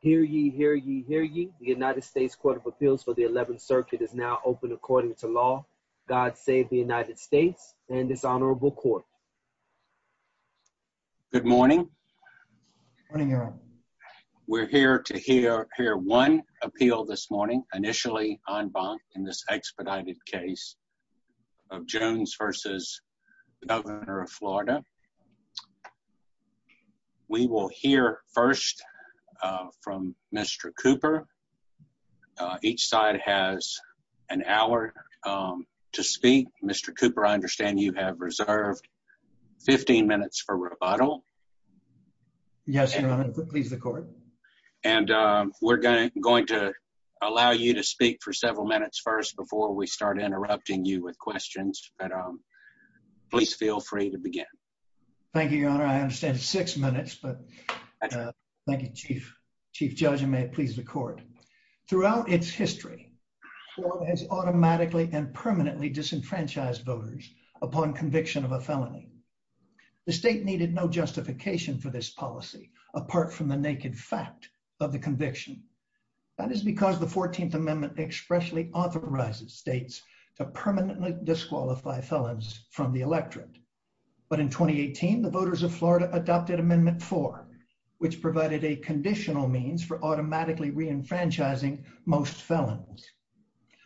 Hear ye, hear ye, hear ye. The United States Court of Appeals for the 11th Circuit is now open according to law. God save the United States and this Honorable Court. Good morning. Good morning, Your Honor. We're here to hear one appeal this morning, initially en banc in this expedited case of Jones versus the Governor of Florida. We will hear first from Mr. Cooper. Each side has an hour to speak. Mr. Cooper, I understand you have reserved 15 minutes for rebuttal. Yes, Your Honor. Please record. And we're going to allow you to speak for several minutes first before we start interrupting you with questions. Please feel free to begin. Thank you, Your Honor. I understand six minutes, but thank you, Chief Judge. And may it please the Court. Throughout its history, Florida has automatically and permanently disenfranchised voters upon conviction of a felony. The state needed no justification for this policy apart from the naked fact of the conviction. That is because the 14th Amendment expressly authorizes states to permanently disqualify felons from the electorate. But in 2018, the voters of Florida adopted Amendment 4, which provided a conditional means for automatically reenfranchising most felons.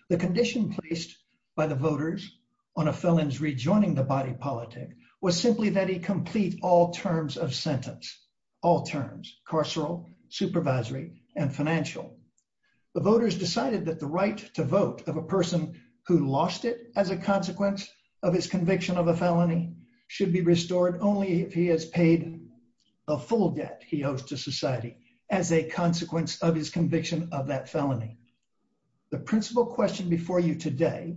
The condition placed by the voters on a felon's rejoining the body politic was simply that he complete all terms of sentence, all terms, carceral, supervisory, and financial. The voters decided that the right to vote of a person who lost it as a consequence of his conviction of a felony should be restored only if he has paid a full debt he owes to society as a consequence of his conviction of that felony. The principal question before you today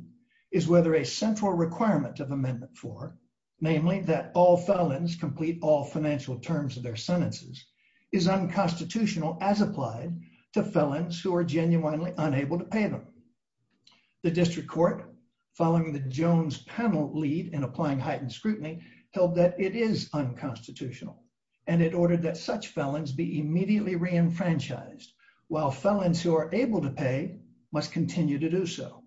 is whether a central requirement of Amendment 4, namely that all felons complete all financial terms of their sentences, is unconstitutional as applied to felons who are genuinely unable to pay them. The District Court, following the Jones panel lead in applying heightened scrutiny, held that it is unconstitutional and it ordered that such felons be immediately reenfranchised while felons who are able to pay must continue to do so.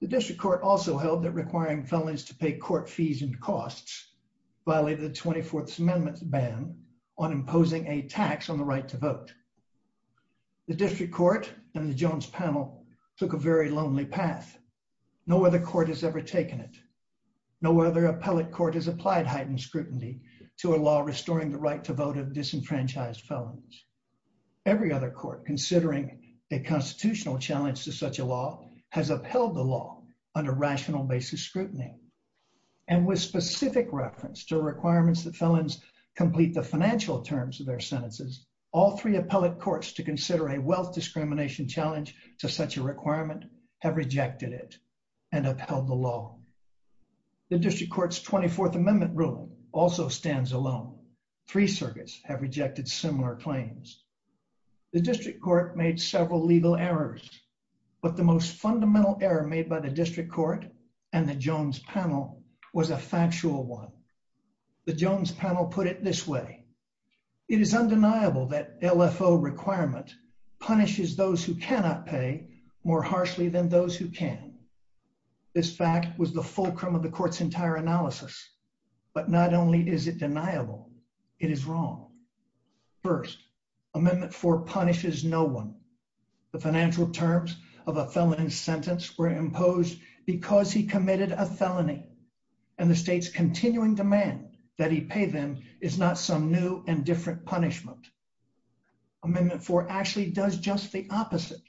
The District Court also held that requiring felons to pay court fees and costs violated the 24th Amendment ban on imposing a tax on the right to vote. The District Court and the Jones panel took a very lonely path. No other court has ever taken it. No other appellate court has applied heightened scrutiny to a law restoring the right to vote of disenfranchised felons. Every other court considering a constitutional challenge to such a law has upheld the law under rational basis scrutiny. And with specific reference to requirements that felons complete the financial terms of their sentences, all three appellate courts to consider a wealth discrimination challenge to such a requirement have rejected it and upheld the law. The District Court's 24th Amendment rule also stands alone. Three circuits have rejected similar claims. The District Court made several legal errors, but the most fundamental error made by the District Court and the Jones panel was a factual one. The Jones panel put it this way, it is undeniable that LFO requirement punishes those who cannot pay more harshly than those who can. This fact was the fulcrum of the court's entire analysis, but not only is it true. First, Amendment 4 punishes no one. The financial terms of a felon's sentence were imposed because he committed a felony and the state's continuing demand that he pay them is not some new and different punishment. Amendment 4 actually does just the opposite.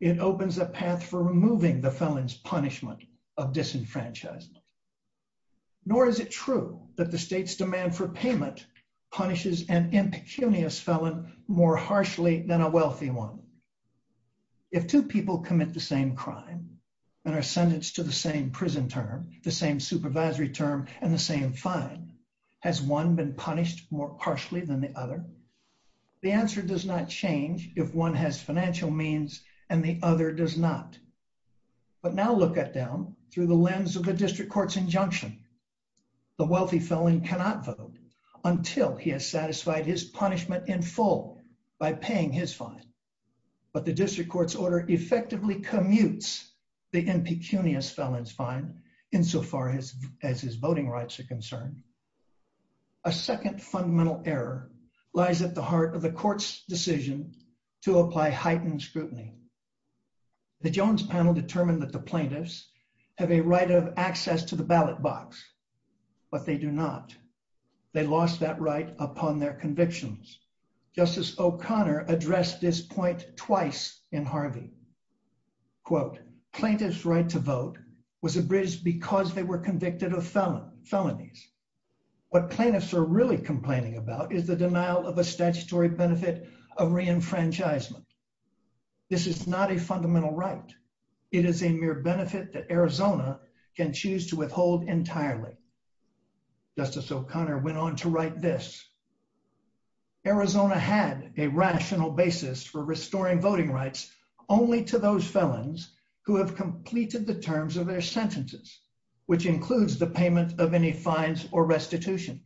It opens a path for removing the felon's punishment of disenfranchisement. Nor is it true that the state's demand for payment punishes an impecunious felon more harshly than a wealthy one. If two people commit the same crime and are sentenced to the same prison term, the same supervisory term, and the same fine, has one been punished more harshly than the other? The answer does not change if one has financial means and the other does not. But now look at them through the lens of a District Court's injunction. The wealthy felon cannot vote until he has satisfied his punishment in full by paying his fine. But the District Court's order effectively commutes the impecunious felon's fine insofar as his voting rights are concerned. A second fundamental error lies at the heart of the court's decision to apply heightened scrutiny. The Jones panel determined that the plaintiffs have a right of access to the ballot box, but they do not. They lost that right upon their convictions. Justice O'Connor addressed this point twice in Harvey. Quote, plaintiff's right to vote was abridged because they were convicted of felonies. What plaintiffs are really complaining about is the denial of a statutory benefit of reenfranchisement. This is not a fundamental right. It is a mere benefit that Arizona can choose to withhold entirely. Justice O'Connor went on to write this. Arizona had a rational basis for restoring voting rights only to those felons who have completed the terms of their sentences, which includes the payment of any fines or restitution.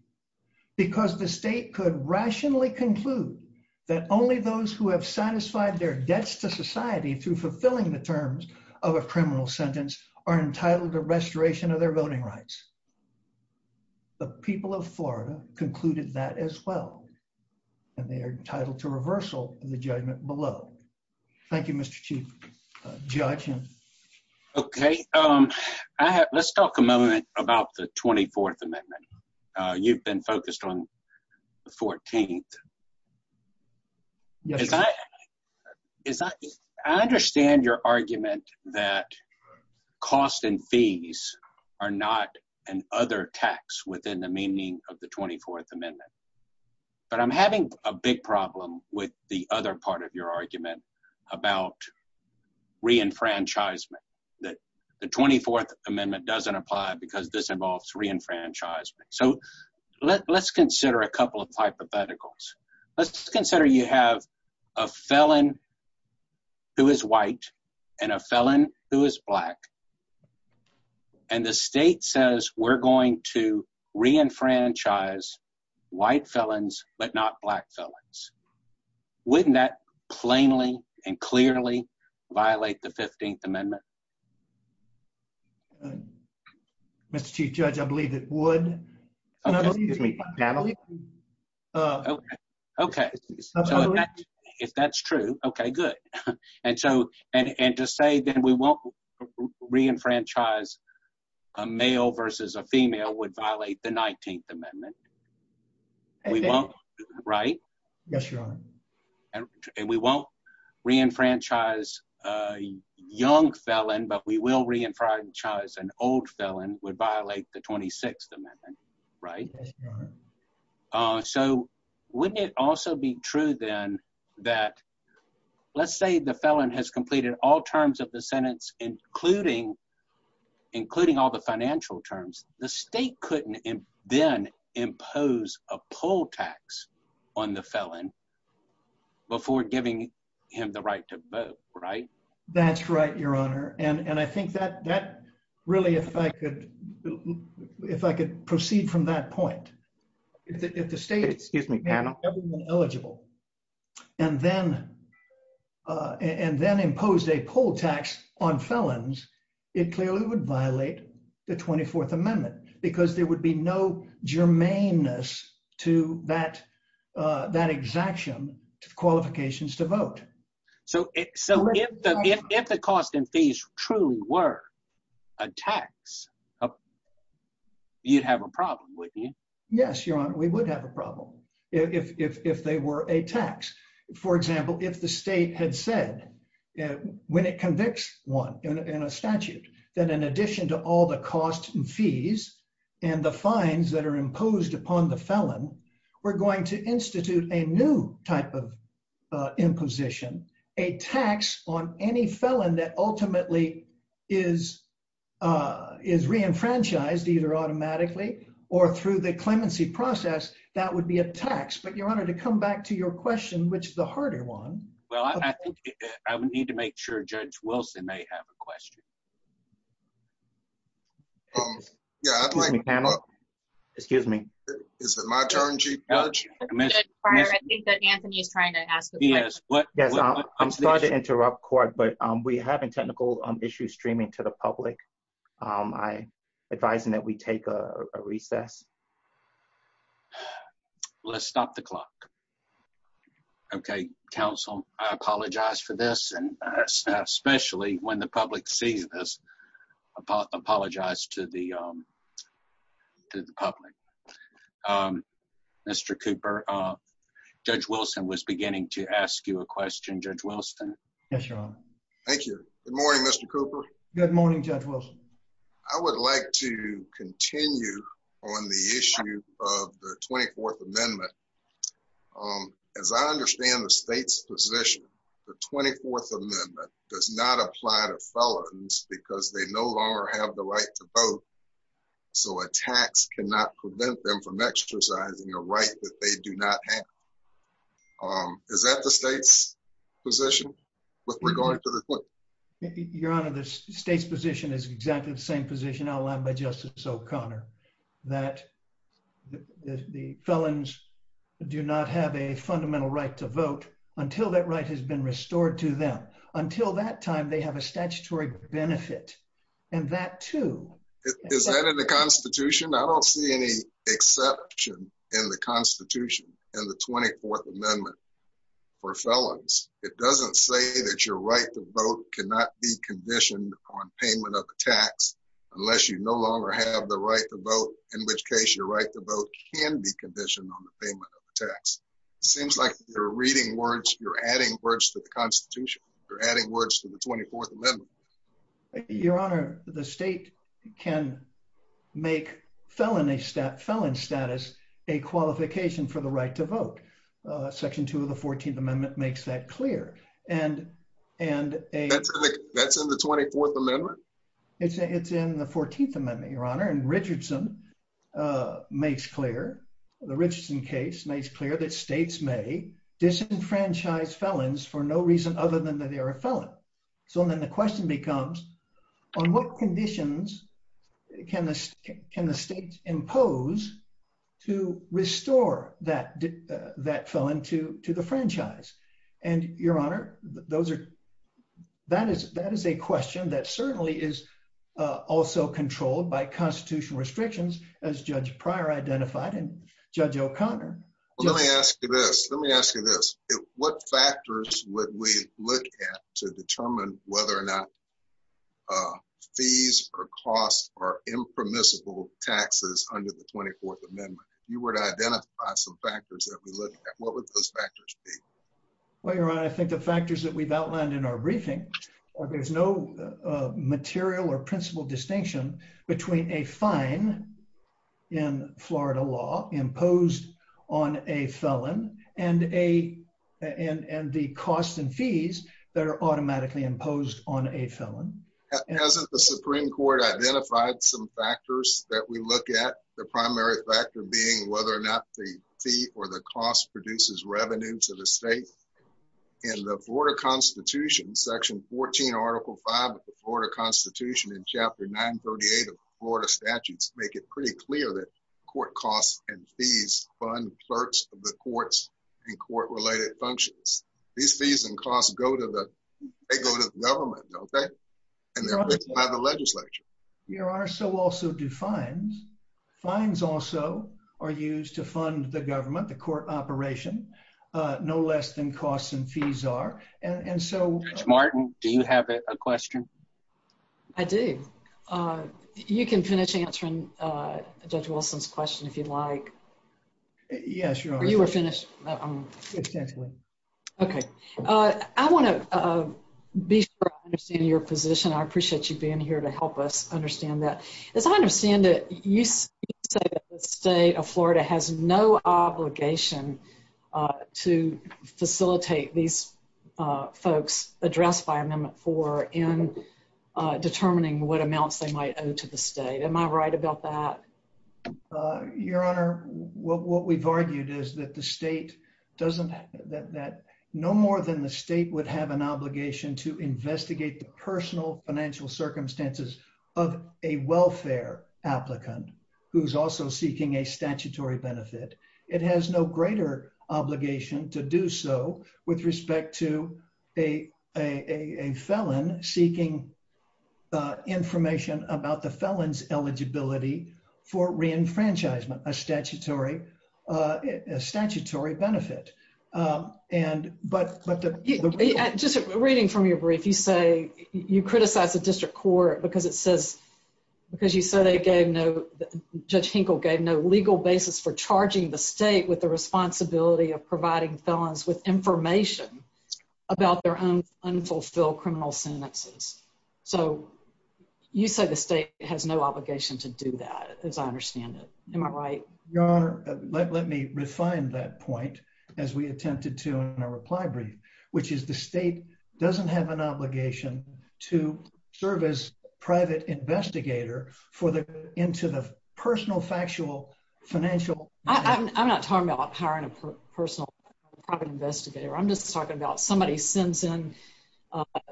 Because the state could rationally conclude that only those who have satisfied their debts to society through fulfilling the terms of a criminal sentence are entitled to restoration of their voting rights. The people of Florida concluded that as well, and they are entitled to reversal in the judgment below. Thank you, Mr. Chief Judge. Okay, let's talk a moment about the 24th Amendment. You've been focused on the 14th. I understand your argument that costs and fees are not an other tax within the meaning of the 24th Amendment, but I'm having a big problem with the other part of your argument about reenfranchisement, that the 24th Amendment doesn't apply because this involves reenfranchisement. So let's consider a couple of hypotheticals. Let's consider you have a felon who is white and a felon who is black, and the state says we're going to reenfranchise white felons but not black felons. Wouldn't that plainly and clearly violate the 15th Amendment? Mr. Chief Judge, I believe it would. Okay. If that's true, okay, good. And just say that we won't reenfranchise a male versus a black felon, and we won't reenfranchise a young felon, but we will reenfranchise an old felon would violate the 26th Amendment, right? So wouldn't it also be true then that, let's say the felon has completed all terms of the sentence, including all the financial terms, the state couldn't then impose a poll tax on the felon before giving him the right to vote, right? That's right, Your Honor. And I think that really, if I could proceed from that point, if the state is not eligible and then impose a poll tax on felons, it clearly would violate the 24th Amendment because there would be no germaneness to that exaction of qualifications to vote. So if the cost and fees truly were a tax, you'd have a problem, wouldn't you? Yes, Your Honor, we would have a problem if they were a tax. For example, if the state had said, when it convicts one in a statute, that in addition to all the costs and fees and the fines that are imposed upon the felon, we're going to institute a new type of imposition, a tax on any felon that ultimately is reenfranchised either automatically or through the clemency process, that would be a tax. But Your Honor, to come back to your question, which is a harder one. Well, I think I would need to make sure Judge Wilson may have a question. Yeah. Excuse me. Is it my turn, Chief Judge? I'm sorry to interrupt, Court, but we're having technical issues streaming to the public. Let's stop the clock. Okay, counsel, I apologize for this, and especially when the public sees this, I apologize to the public. Mr. Cooper, Judge Wilson was beginning to ask you a question. Judge Wilson? Yes, Your Honor. Thank you. Good morning, Mr. Cooper. Good morning, Judge Wilson. I would like to continue on the issue of the 24th Amendment. As I understand the state's position, the 24th Amendment does not apply to felons because they no longer have the right to vote, so a tax cannot prevent them from exercising a right that they do not have. Is that the state's position with regard to the 24th Amendment? Your Honor, the state's position is exactly the same position outlined by Justice O'Connor, that the felons do not have a fundamental right to vote until that right has been restored to them. Until that time, they have a statutory benefit, and that too... Is that in the Constitution? I don't see any exception in the Constitution, in the 24th Amendment, for felons. It doesn't say that your right to vote cannot be conditioned on payment of a tax unless you no longer have the right to vote, in which case your right to vote can be conditioned on the payment of a tax. It seems like you're reading words, you're adding words to the Constitution, you're adding words to the 24th Amendment. Your Honor, the state can make felon status a qualification for the right to vote. Section 2 of the 14th Amendment makes that clear. That's in the 24th Amendment? It's in the 14th Amendment, Your Honor, and the Richardson case makes clear that states may disenfranchise felons for no reason other than that they are a felon. So then the question becomes, on what conditions can the states impose to restore that felon to the franchise? And Your Honor, that is a question that certainly is also controlled by constitutional restrictions, as Judge Pryor identified and Judge O'Connor. Let me ask you this. Let me ask you this. What factors would we look at to determine whether or not fees or costs are impermissible taxes under the 24th Amendment? If you were to identify some factors that we look at, what would those factors be? Well, Your Honor, I think the factors that we've outlined in our briefing are there's no material or principal distinction between a fine in Florida law imposed on a felon and the cost and fees that are automatically imposed on a felon. Hasn't the Supreme Court identified some factors that we look at, the primary factor being whether or not the fee or the cost produces revenue to the state? In the Florida Constitution, Section 14, Article 5 of the Florida Constitution and Chapter 938 of the Florida Statutes make it pretty clear that court costs and fees fund certs of the courts and court-related functions. These fees and costs go to the government, don't they? And they're paid by the legislature. Your Honor, so also do fines. Fines also are used to fund the government, the court operation, no less than costs and fees are. Ms. Martin, do you have a question? I do. You can finish answering Judge Wilson's question if you'd like. Yes, Your Honor. You were finished. Okay. I want to be sure I understand your position. I appreciate you being here to help us to facilitate these folks addressed by Amendment 4 in determining what amounts they might owe to the state. Am I right about that? Your Honor, what we've argued is that no more than the state would have an obligation to investigate the personal financial circumstances of a welfare applicant who's also seeking a statutory benefit. It has no greater obligation to do so with respect to a felon seeking information about the felon's eligibility for reenfranchisement, a statutory benefit. Just reading from your brief, you say you criticize the district court because it says, because you say they gave no, Judge Hinkle gave no legal basis for charging the state with the responsibility of providing felons with information about their own unfulfilled criminal sentences. So you say the state has no obligation to do that as I understand it. Am I right? Your Honor, let me refine that point as we attempted to in our reply brief, which is the state doesn't have an obligation to serve as private investigator for the, into the personal factual financial. I'm not talking about hiring a personal private investigator. I'm just talking about somebody sends in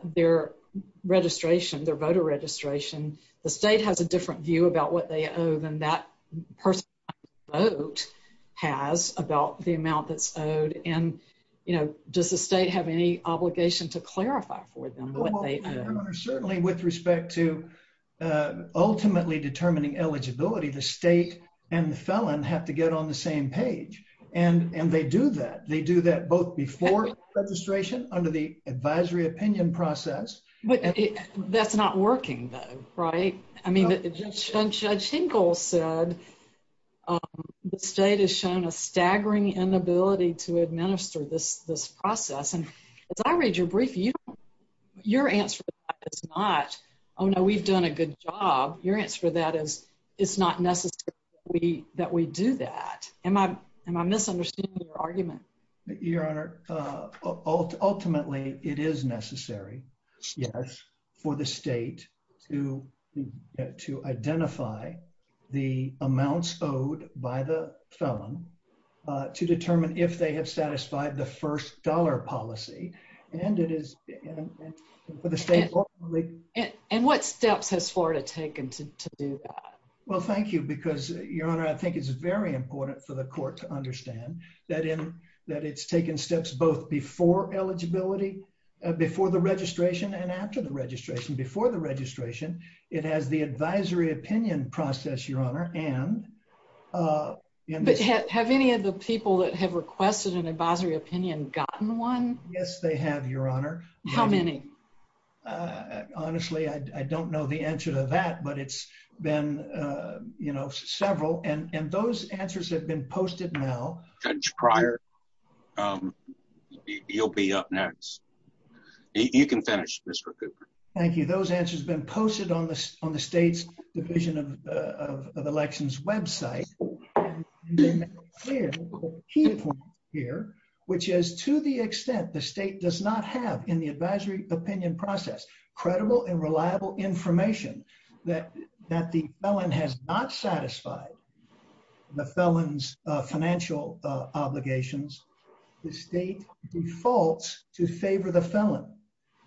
their registration, their voter registration. The state has a different view about what they owe than that person has about the amount that's owed and, you know, does the state have any obligation to clarify for them what they owe? Certainly with respect to ultimately determining eligibility, the state and the felon have to get on the same page and they do that. They do that both before registration under the advisory opinion process. That's not working though, right? I mean, Judge Hinkle said the state has shown a staggering inability to administer this process. And as I read your brief, your answer is not, oh no, we've done a good job. Your answer to that is it's not necessary that we do that. Am I, am I misunderstanding your argument? Your Honor, ultimately it is necessary, yes, for the state to, to identify the amounts owed by the felon to determine if they have satisfied the first dollar policy and it is for the state. And what steps has Florida taken to do that? Well, thank you because, Your Honor, I think it's very important for the court to understand that in, that it's taken steps both before eligibility, before the registration and after the registration. Before the registration, it has the advisory opinion process, Your Honor, and... But have any of the people that have requested an advisory opinion gotten one? Yes, they have, Your Honor. How many? Honestly, I don't know the answer to that, but it's been, you know, several. And, and those answers have been posted now. Prior, you'll be up next. You can finish, Mr. Cooper. Thank you. Those answers have been posted on the, on the state's Division of Elections website. Which is to the extent the state does not have in the advisory opinion process, credible and reliable information that, that the felon has not satisfied the felon's financial obligations, the state defaults to favor the felon.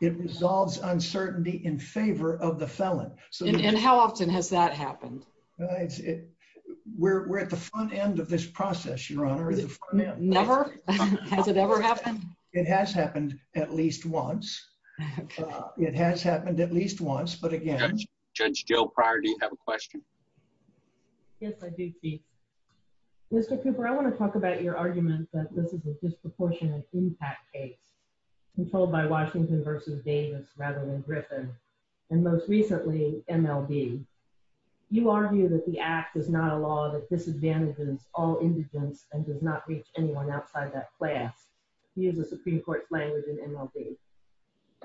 It resolves uncertainty in favor of the felon. And how often has that happened? We're, we're at the front end of this process, Your Honor. Never? Has it ever happened? It has happened at least once. It has happened at least once, but again... Judge Dale Pryor, do you have a question? Yes, I do, Steve. Mr. Cooper, I want to talk about your argument that this is a disproportionate impact case, controlled by Washington versus Davis rather than Griffin, and most recently, MLB. You argue that the act is not a law that disadvantages all indigent and does not reach anyone outside that class, to use the Supreme Court's language in MLB.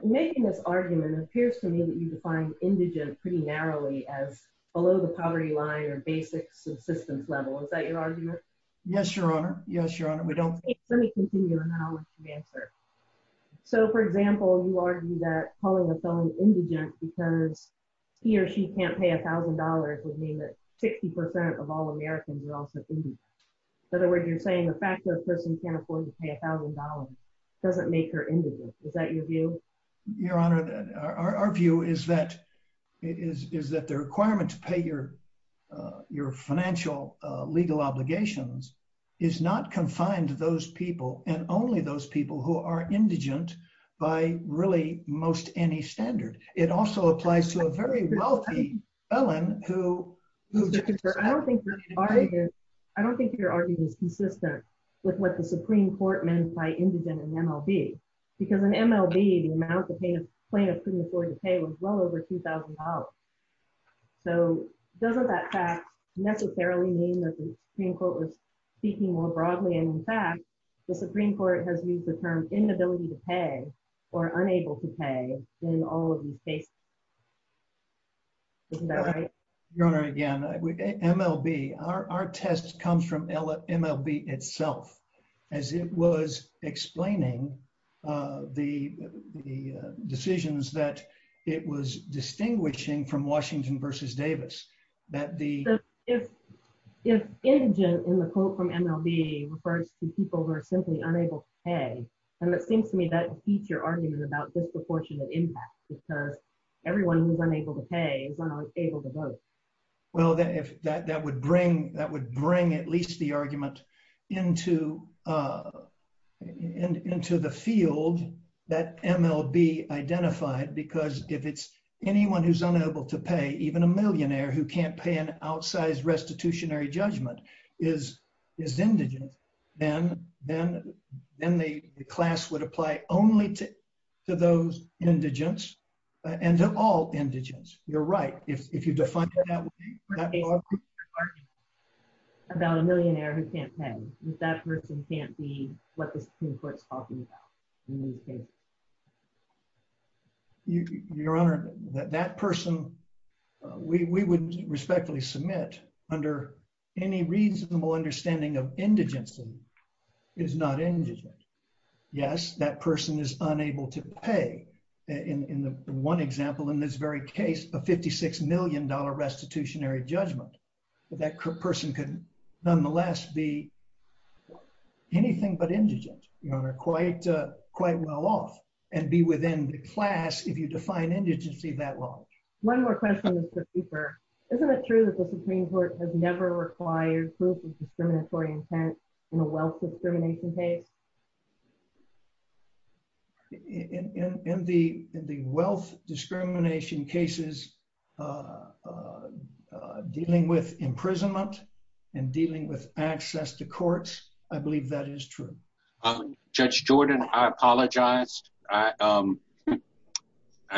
In making this argument, it appears to me that you define indigent pretty narrowly as below the poverty line or basic subsistence level. Is that your argument? Yes, Your Honor. Yes, Your Honor. We don't... Let me continue on how I should answer. So, for example, you argue that calling a felon indigent because he or she can't pay $1,000 would mean that 60% of all Americans are also indigent. In other words, you're saying the fact that a person can't afford to pay $1,000 doesn't make her indigent. Is that your view? Your Honor, our view is that the requirement to pay your financial legal obligations is not confined to those people and only those people who are indigent by really most any standard. It also applies to a very wealthy felon who... I don't think your argument is consistent with what the Supreme Court meant by indigent in MLB, because in MLB, the amount the plaintiff couldn't afford to pay was well over $2,000. So, doesn't that fact necessarily mean that the Supreme Court was speaking more broadly, and in fact, the Supreme Court has used the term inability to pay or unable to pay in all of these cases? Is that right? Your Honor, again, MLB, our test comes from MLB itself, as it was explaining the decisions that it was distinguishing from Washington versus Davis. If indigent in the quote from MLB refers to people who are simply unable to pay, and it seems to me that feeds your argument about disproportionate impact because everyone who's unable to pay is unable to vote. Well, that would bring at least the argument into the field that MLB identified, because if it's anyone who's unable to pay, even a millionaire who can't pay an indigent, the class would apply only to those indigents and to all indigents. You're right, if you define that. About a millionaire who can't pay, that person can't be what the Supreme Court is talking about. Your Honor, that person, we would respectfully submit under any reasonable understanding of indigency is not indigent. Yes, that person is unable to pay. In one example, in this very case, a $56 million restitutionary judgment, but that person can nonetheless be anything but indigent, Your Honor, quite well off, and be within the class if you define indigency that long. One more question, Mr. Cooper. Isn't it true that the Supreme Court has never required proof of discriminatory intent in a wealth discrimination case? In the wealth discrimination cases dealing with imprisonment and dealing with access to courts, I believe that is true. Judge Jordan, I apologize. I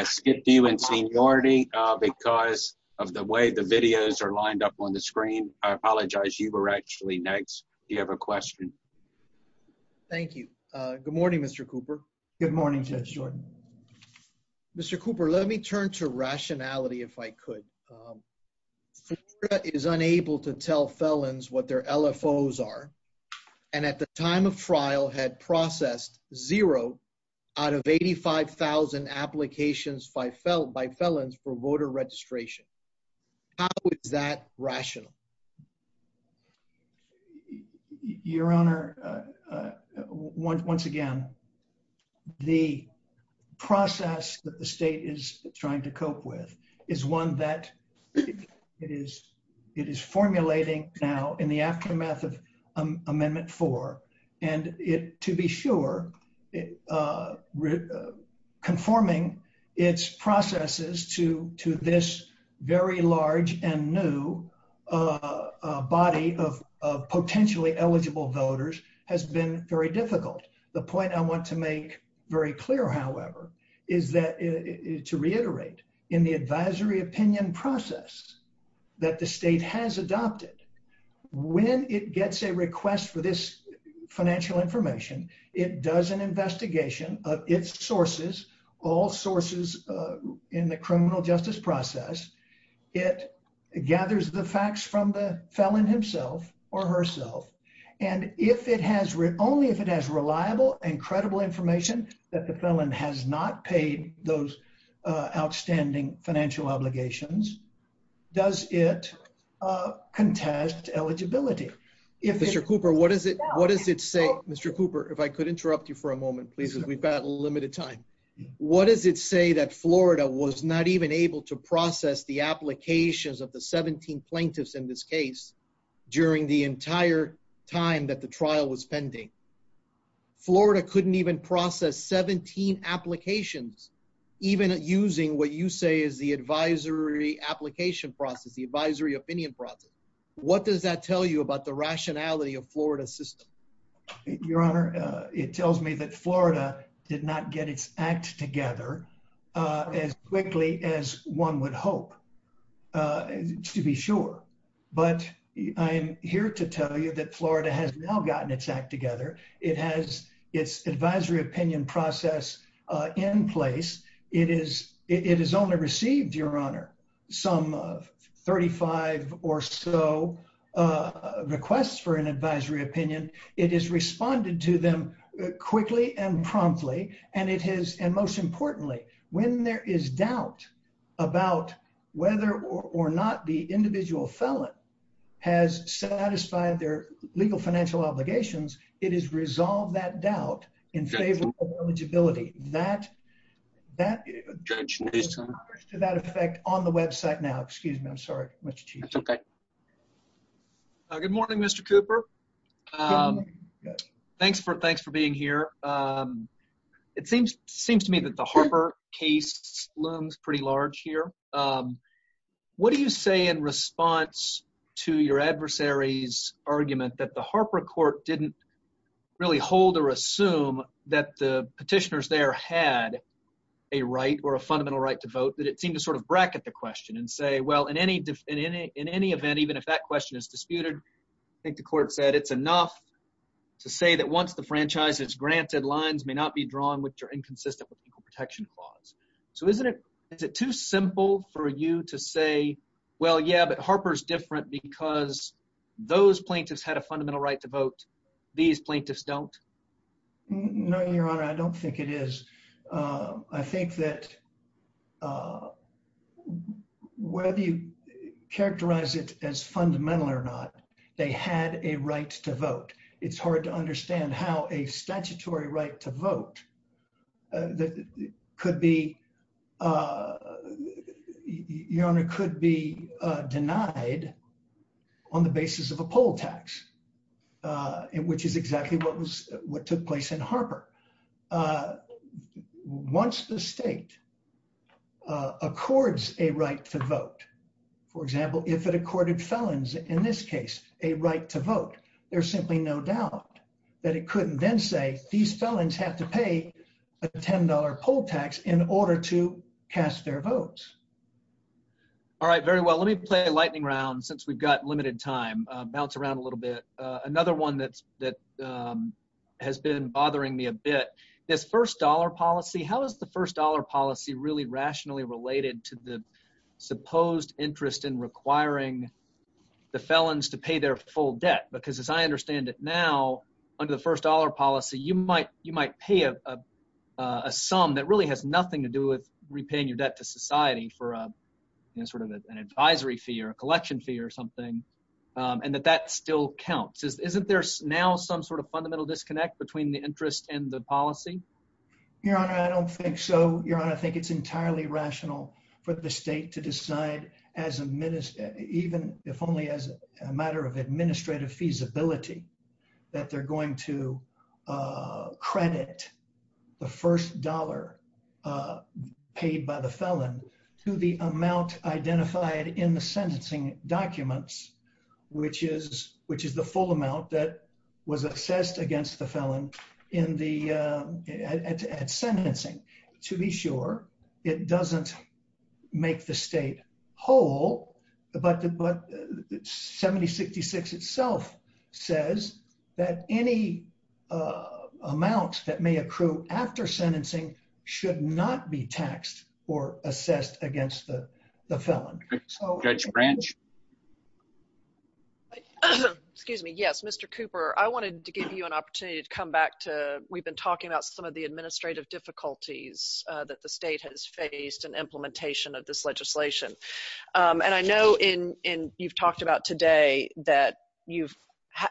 skipped you in seniority because of the way the videos are lined up on the screen. I apologize. You were actually next. Do you have a question? Thank you. Good morning, Mr. Cooper. Good morning, Judge Jordan. Mr. Cooper, let me turn to rationality, if I could. The state is unable to tell felons what their LFOs are, and at the time of trial had processed zero out of 85,000 applications by felons for voter registration. How is that rational? Your Honor, once again, the process that the state is trying to cope with is one that it is formulating now in the aftermath of Amendment 4, and to be sure, conforming its processes to this very large and new body of potentially eligible voters has been very difficult. The point I want to make very clear, however, is to reiterate, in the advisory opinion process that the state has adopted, when it gets a request for this investigation of its sources, all sources in the criminal justice process, it gathers the facts from the felon himself or herself, and only if it has reliable and credible information that the felon has not paid those outstanding financial obligations does it contest eligibility. Mr. Cooper, what does it say? Mr. Cooper, if I could interrupt you for a moment, please, because we've got limited time. What does it say that Florida was not even able to process the applications of the 17 plaintiffs in this case during the entire time that the trial was pending? Florida couldn't even process 17 applications, even using what you say is the advisory application process, the advisory opinion process. What does that tell you about the rationality of Florida's system? Your Honor, it tells me that Florida did not get its act together as quickly as one would hope, to be sure, but I am here to tell you that Florida has now gotten its act together. It has responded to some 35 or so requests for an advisory opinion. It has responded to them quickly and promptly, and most importantly, when there is doubt about whether or not the individual felon has satisfied their legal financial obligations, it has resolved that doubt in favor of eligibility. That effect on the website now. Excuse me. I'm sorry. Good morning, Mr. Cooper. Thanks for being here. It seems to me that the Harper case looms pretty large here. What do you say in response to your adversary's argument that the Harper court didn't really hold or assume that the petitioners there had a right or a fundamental right to vote, that it seemed to sort of bracket the question and say, well, in any event, even if that question is disputed, I think the court said it's enough to say that once the franchise is granted, lines may not be drawn which are inconsistent with equal protection clause. So isn't it too simple for you to say, well, yeah, but Harper's different because those plaintiffs had a fundamental right to vote these plaintiffs don't? No, your honor, I don't think it is. I think that whether you characterize it as fundamental or not, they had a right to vote. It's hard to understand how a statutory right to vote that could be, your honor, could be denied on the basis of a poll tax, which is exactly what took place in Harper. Once the state accords a right to vote, for example, if it accorded felons, in this case, a right to vote, there's simply no doubt that it couldn't then say these felons have to pay a $10 poll tax in order to cast their votes. All right, very well. Let me play a lightning round. Since we've got limited time, bounce around a little bit. Another one that has been bothering me a bit, this first dollar policy, how is the first dollar policy really rationally related to the supposed interest in requiring the felons to pay their full debt? Because as I understand it now, under the first dollar policy, you might pay a sum that really has nothing to do with or something, and that that still counts. Isn't there now some sort of fundamental disconnect between the interest and the policy? Your honor, I don't think so. Your honor, I think it's entirely rational for the state to decide, even if only as a matter of administrative feasibility, that they're going to credit the first dollar paid by the felon to the amount identified in the sentencing documents, which is the full amount that was assessed against the felon at sentencing. To be sure, it doesn't make the state whole, but 7066 itself says that any amounts that may approve after sentencing should not be taxed or assessed against the felon. Excuse me. Yes, Mr. Cooper, I wanted to give you an opportunity to come back to, we've been talking about some of the administrative difficulties that the state has faced in implementation of this legislation. I know you've talked about today that you've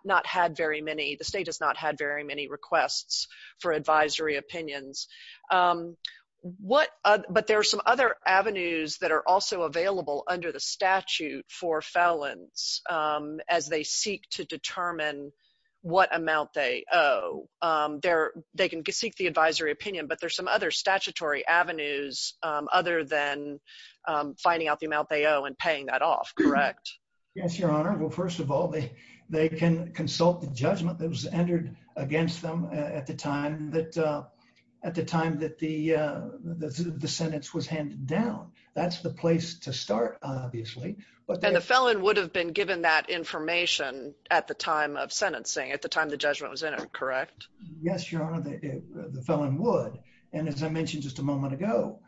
not had very many, the state has not had very many requests for advisory opinions, but there are some other avenues that are also available under the statute for felons as they seek to determine what amount they owe. They can seek the advisory opinion, but there's some other statutory avenues other than finding out the amount they owe and paying that off, correct? Yes, your honor. Well, they can consult the judgment that was entered against them at the time that the sentence was handed down. That's the place to start, obviously. And the felon would have been given that information at the time of sentencing, at the time the judgment was entered, correct? Yes, your honor, the felon would. And as I mentioned just a moment ago,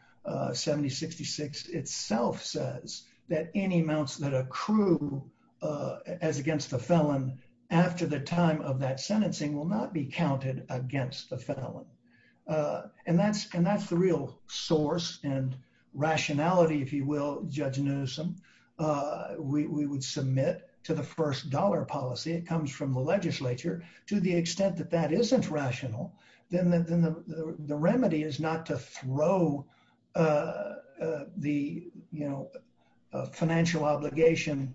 7066 itself says that any amounts that accrue as against the felon after the time of that sentencing will not be counted against the felon. And that's the real source and rationality, if you will, Judge Newsom, we would submit to the first dollar policy. It comes from the legislature to the extent that that isn't rational, then the remedy is not to throw the, you know, financial obligation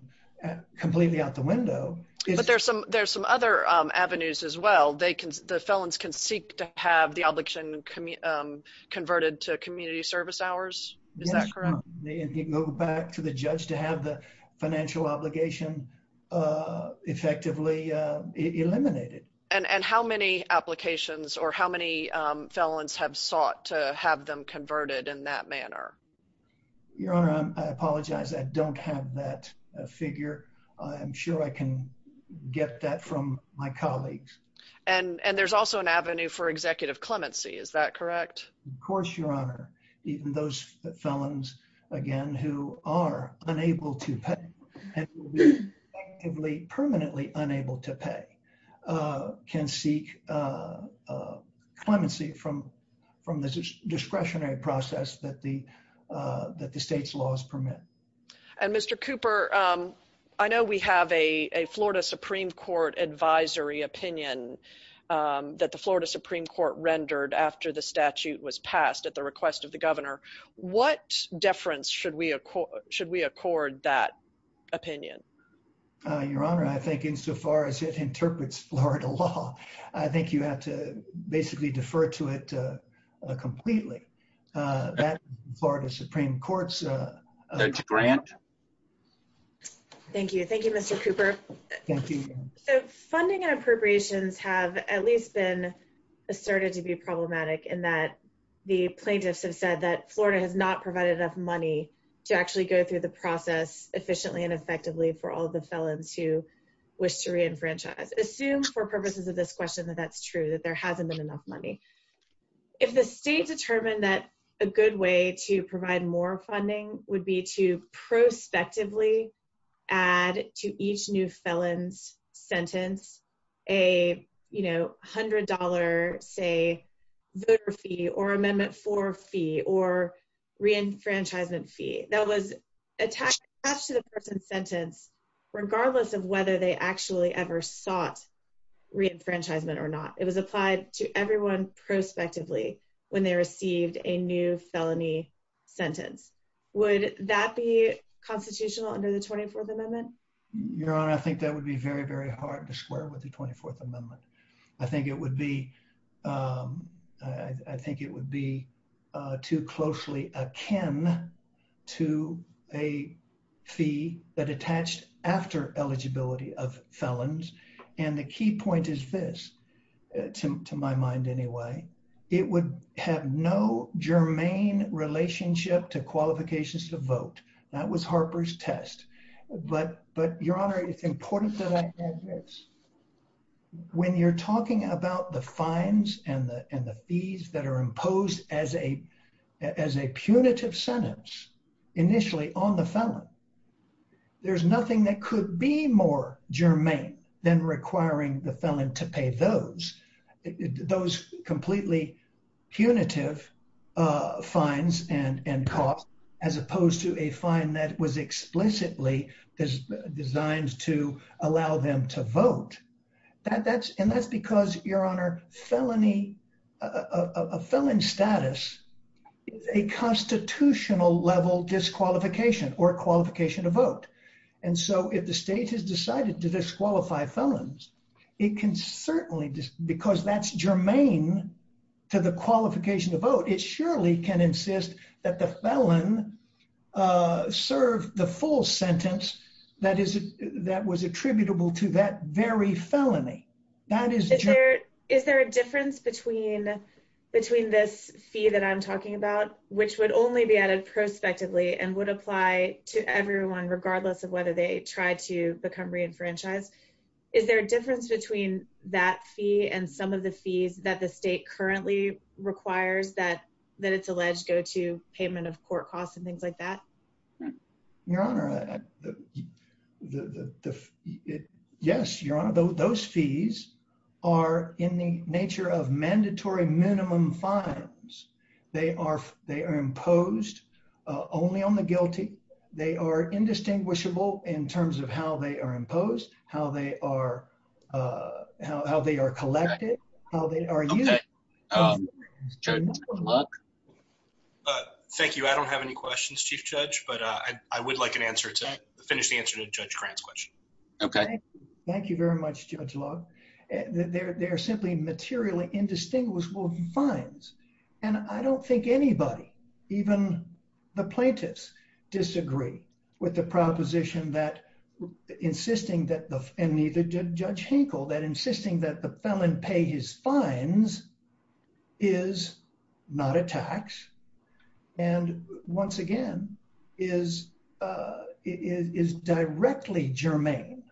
completely out the window. But there's some other avenues as well. The felons can seek to have the obligation converted to community service hours, is that correct? Yes, and move back to the judge to have the financial obligation effectively eliminated. And how many applications or how many felons have sought to have them converted in that manner? Your honor, I apologize, I don't have that figure. I'm sure I can get that from my colleagues. And there's also an avenue for executive clemency, is that correct? Of course, your honor. Even those felons, again, who are unable to pay and will be permanently unable to pay can seek clemency from the discretionary process that the state's laws permit. And Mr. Cooper, I know we have a Florida Supreme Court advisory opinion that the Florida Supreme Court rendered after the statute was passed at the request of the governor. What deference should we accord that opinion? Your honor, I think insofar as it interprets Florida law, I think you have to basically defer to it completely. That Florida has at least been asserted to be problematic in that the plaintiffs have said that Florida has not provided enough money to actually go through the process efficiently and effectively for all the felons who wish to reenfranchise. Assume for purposes of this question that that's true, that there hasn't been enough money. If the state determined that a good way to provide more funding would be to prospectively add to each new felon's sentence a $100, say, voter fee or amendment for fee or reenfranchisement fee that was attached to the person's sentence regardless of whether they actually ever sought reenfranchisement or not. It was applied to that person. Would that be constitutional under the 24th Amendment? Your honor, I think that would be very, very hard to square with the 24th Amendment. I think it would be too closely akin to a fee that attached after eligibility of felons. The key point is this, to my mind anyway, it would have no germane relationship to qualifications to vote. That was Harper's test. But your honor, it's important that I add this. When you're talking about the fines and the fees that are imposed as a punitive sentence initially on the felon, there's nothing that punitive fines and costs as opposed to a fine that was explicitly designed to allow them to vote. And that's because, your honor, a felon status is a constitutional level disqualification or qualification to vote. And so if the state has decided to disqualify felons, it can certainly, because that's germane to the qualification to vote, it surely can insist that the felon serve the full sentence that was attributable to that very felony. Is there a difference between this fee that I'm talking about, which would only be added prospectively and would apply to everyone regardless of whether they tried to become a felon or not? Is there a difference between the fee and some of the fees that the state currently requires that it's alleged go to payment of court costs and things like that? Your honor, yes, your honor. Those fees are in the nature of mandatory minimum fines. They are imposed only on the guilty. They are indistinguishable in terms of how they are collected, how they are used. Thank you. I don't have any questions, Chief Judge, but I would like an answer to finish the answer to Judge Grant's question. Okay. Thank you very much, Judge Loeb. They're simply materially indistinguishable fines. And I don't think anybody, even the plaintiffs, disagree with the proposition that, and neither did Judge Hinkle, that insisting that the felon pay his fines is not a tax and, once again, is directly germane,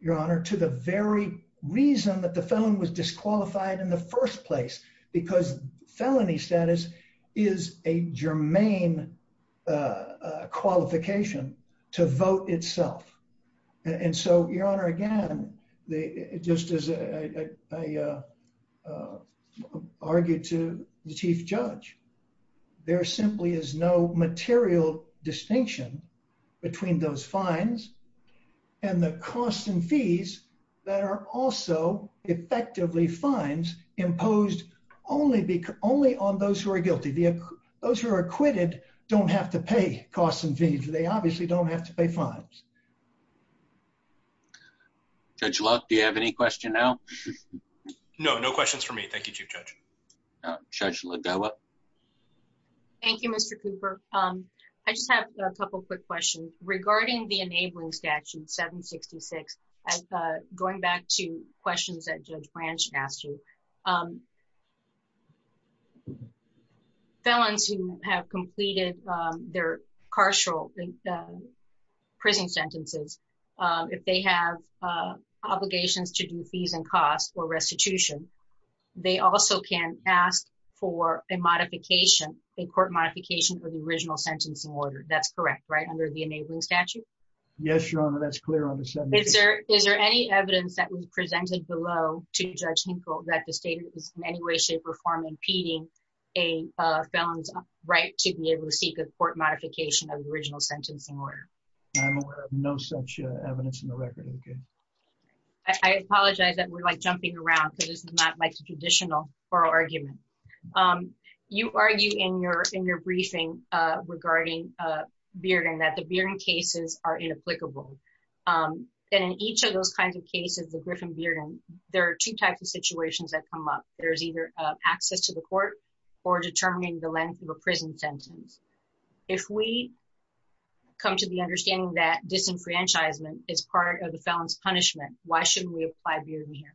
your honor, to the very reason that the felon was disqualified in the first place because felony status is a germane qualification to vote itself. And so, your honor, again, just as I argued to the Chief Judge, there simply is no material distinction between those fines and the costs and fees that are also effectively fines imposed only on those who are guilty. Those who are acquitted don't have to pay costs and fees. They obviously don't have to pay fines. Judge Loeb, do you have any questions now? No. No questions for me. Thank you, Chief Judge. Judge Lodella. Thank you, Mr. Cooper. I just have a couple quick questions. Regarding the enabling statute 766, as going back to questions that Judge Branch asked you, felons who have completed their carceral prison sentences, if they have obligations to do fees and costs or restitution, they also can ask for a modification, a court modification, for the original sentencing order. That's correct, right, under the enabling statute? Yes, your honor. That's clear on the 766. Is there any evidence that was presented below to Judge Hinkle that the state is in any way, shape, or form impeding a felon's right to be able to seek a court modification of the original sentencing order? I'm aware of no such evidence in the record. I apologize that we're jumping around because this is not like a traditional oral argument. You argue in your briefing regarding bearding that the bearding cases are inapplicable. In each of those kinds of cases, the Griffin bearding, there are two types of situations that come up. There's either access to the court or determining the length of a prison sentence. If we come to the understanding that disenfranchisement is part of the felon's punishment, why shouldn't we apply bearding here?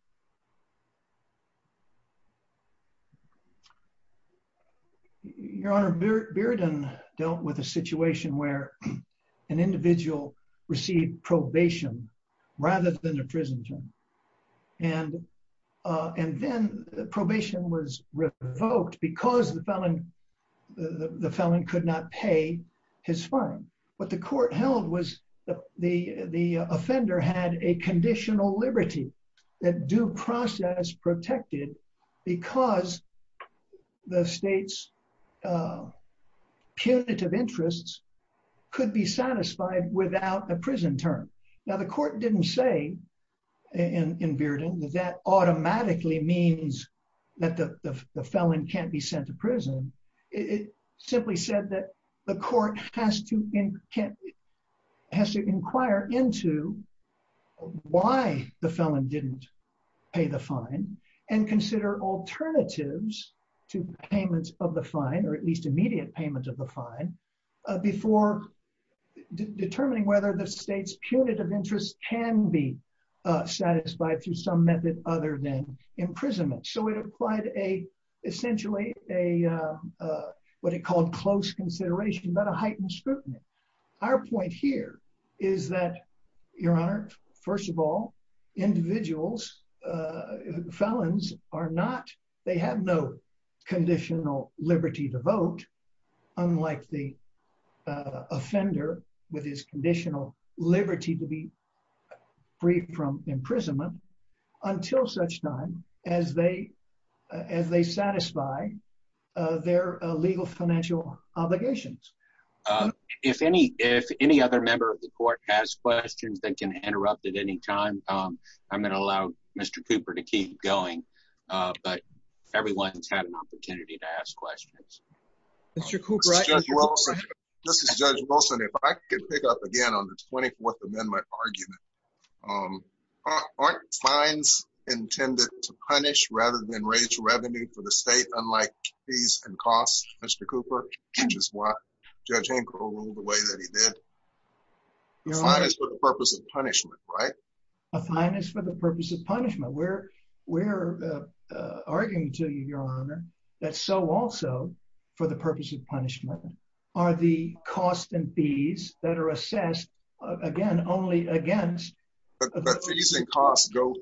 Your honor, bearding dealt with a situation where an individual received probation rather than a prison term. Then, probation was revoked because the felon could not pay his fine. What the court held was the offender had a conditional liberty that due process protected because the state's punitive interests could be satisfied without a prison term. The court didn't say in bearding that that automatically means that the felon can't be sent to prison. It simply said that the court has to inquire into why the felon didn't pay the fine and consider alternatives to payments of the fine or at least immediate payments of the fine before determining whether the state's punitive interest can be satisfied through some method other than imprisonment. It applied essentially what he called close consideration, not a heightened scrutiny. Our point here is that, your honor, first of all, individuals, felons, they have no conditional liberty to vote unlike the offender with his conditional liberty to be free from imprisonment until such time as they satisfy their legal financial obligations. If any other member of the court has questions and can interrupt at any time, I'm going to allow Mr. Cooper to keep going, but everyone's had an opportunity to ask questions. Mr. Cooper? This is Judge Wilson. If I could pick up again on the 24th Amendment argument, aren't fines intended to punish rather than raise revenue for the state unlike fees and costs, Mr. Cooper, which is why Judge Hancock ruled the way that he did? A fine is for the purpose of punishment, right? A fine is for the purpose of punishment. We're arguing to you, your honor, that so also for the purpose of punishment are the costs and fees that are assessed, again, only against... But the fees and costs go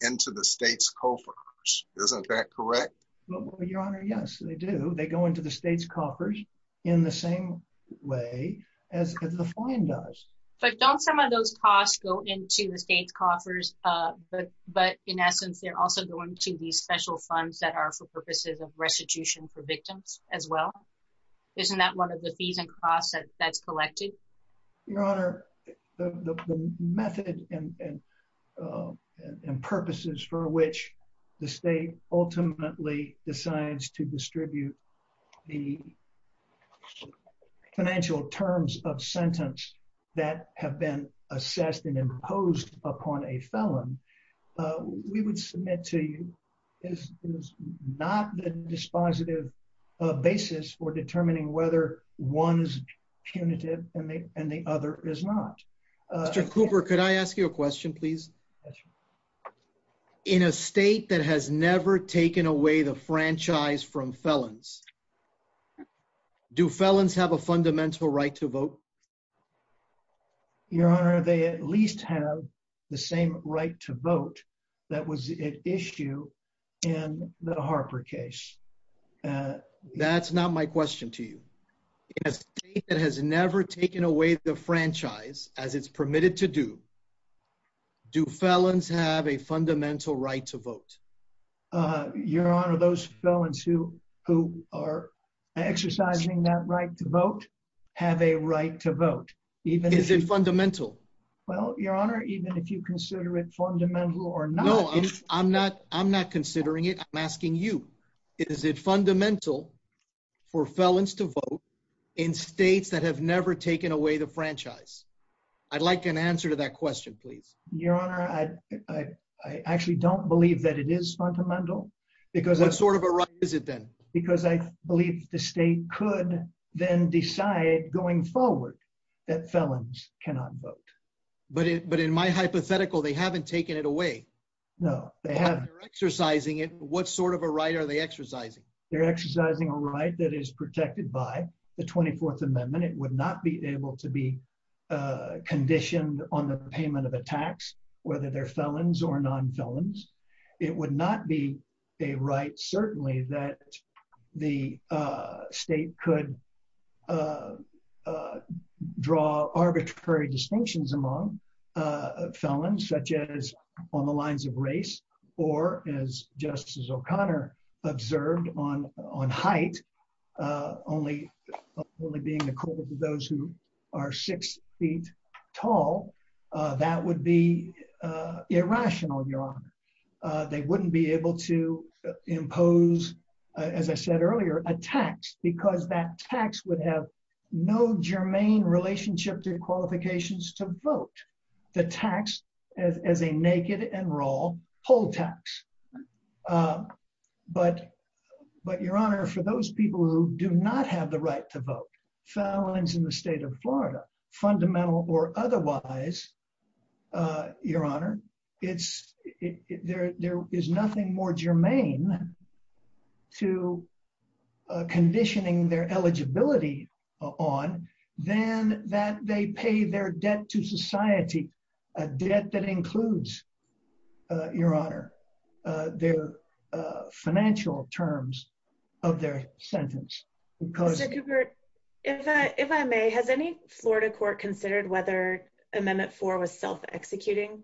into the state's coffers. Isn't that correct? Well, your honor, yes, they do. They go into the state's coffers in the same way as the fine does. But don't some of those costs go into the state coffers, but in essence, they're also going to these special funds that are for purposes of restitution for victims as well? Isn't that one of the fees and costs that's collected? Your honor, the method and purposes for which the state ultimately decides to distribute the financial terms of sentence that have been assessed and imposed upon a felon, we would submit to you is not the dispositive basis for determining whether one's punitive and the other is not. Mr. Cooper, could I ask you a question, please? In a state that has never taken away the franchise from felons, do felons have a fundamental right to vote? Your honor, they at least have the same right to vote that was at issue in the Harper case. That's not my question to you. In a state that has never taken away the franchise as it's permitted to do, do felons have a fundamental right to vote? Your honor, those felons who are exercising that right to vote have a right to vote. Is it fundamental? Well, your honor, even if you consider it or not... No, I'm not considering it. I'm asking you. Is it fundamental for felons to vote in states that have never taken away the franchise? I'd like an answer to that question, please. Your honor, I actually don't believe that it is fundamental because... That's sort of a right, is it then? Because I believe the state could then decide going forward that felons cannot vote. But in my hypothetical, they haven't taken it away. No, they haven't. They're exercising it. What sort of a right are they exercising? They're exercising a right that is protected by the 24th Amendment. It would not be able to be conditioned on the payment of a tax, whether they're felons or non-felons. It would not be a right, certainly, that the state could not draw arbitrary distinctions among felons, such as on the lines of race, or as Justice O'Connor observed on height, only being equal to those who are six feet tall. That would be irrational, your honor. They wouldn't be able to impose, as I said earlier, a tax because that tax would have no germane relationship to qualifications to vote. The tax as a naked and raw poll tax. But your honor, for those people who do not have the right to vote, felons in the state of Florida, fundamental or otherwise, your honor, there is nothing more on than that they pay their debt to society, a debt that includes, your honor, their financial terms of their sentence. If I may, has any Florida court considered whether Amendment 4 was self-executing?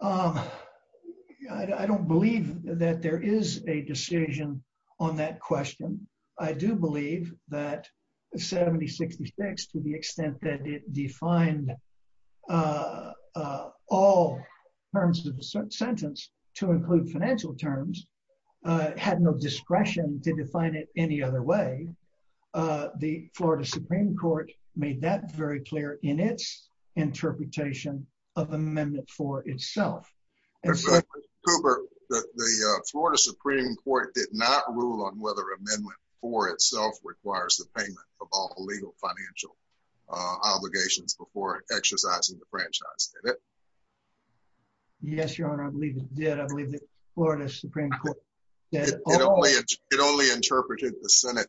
I don't believe that there is a decision on that question. I do believe that 7066, to the extent that it defined all terms of the sentence to include financial terms, had no discretion to define it any other way. The Florida Supreme Court made that very clear in its interpretation of Amendment 4 itself. Cooper, the Florida Supreme Court did not rule on whether Amendment 4 itself requires the payment of all legal financial obligations before exercising the franchise, did it? Yes, your honor, I believe it did. It only interpreted the Senate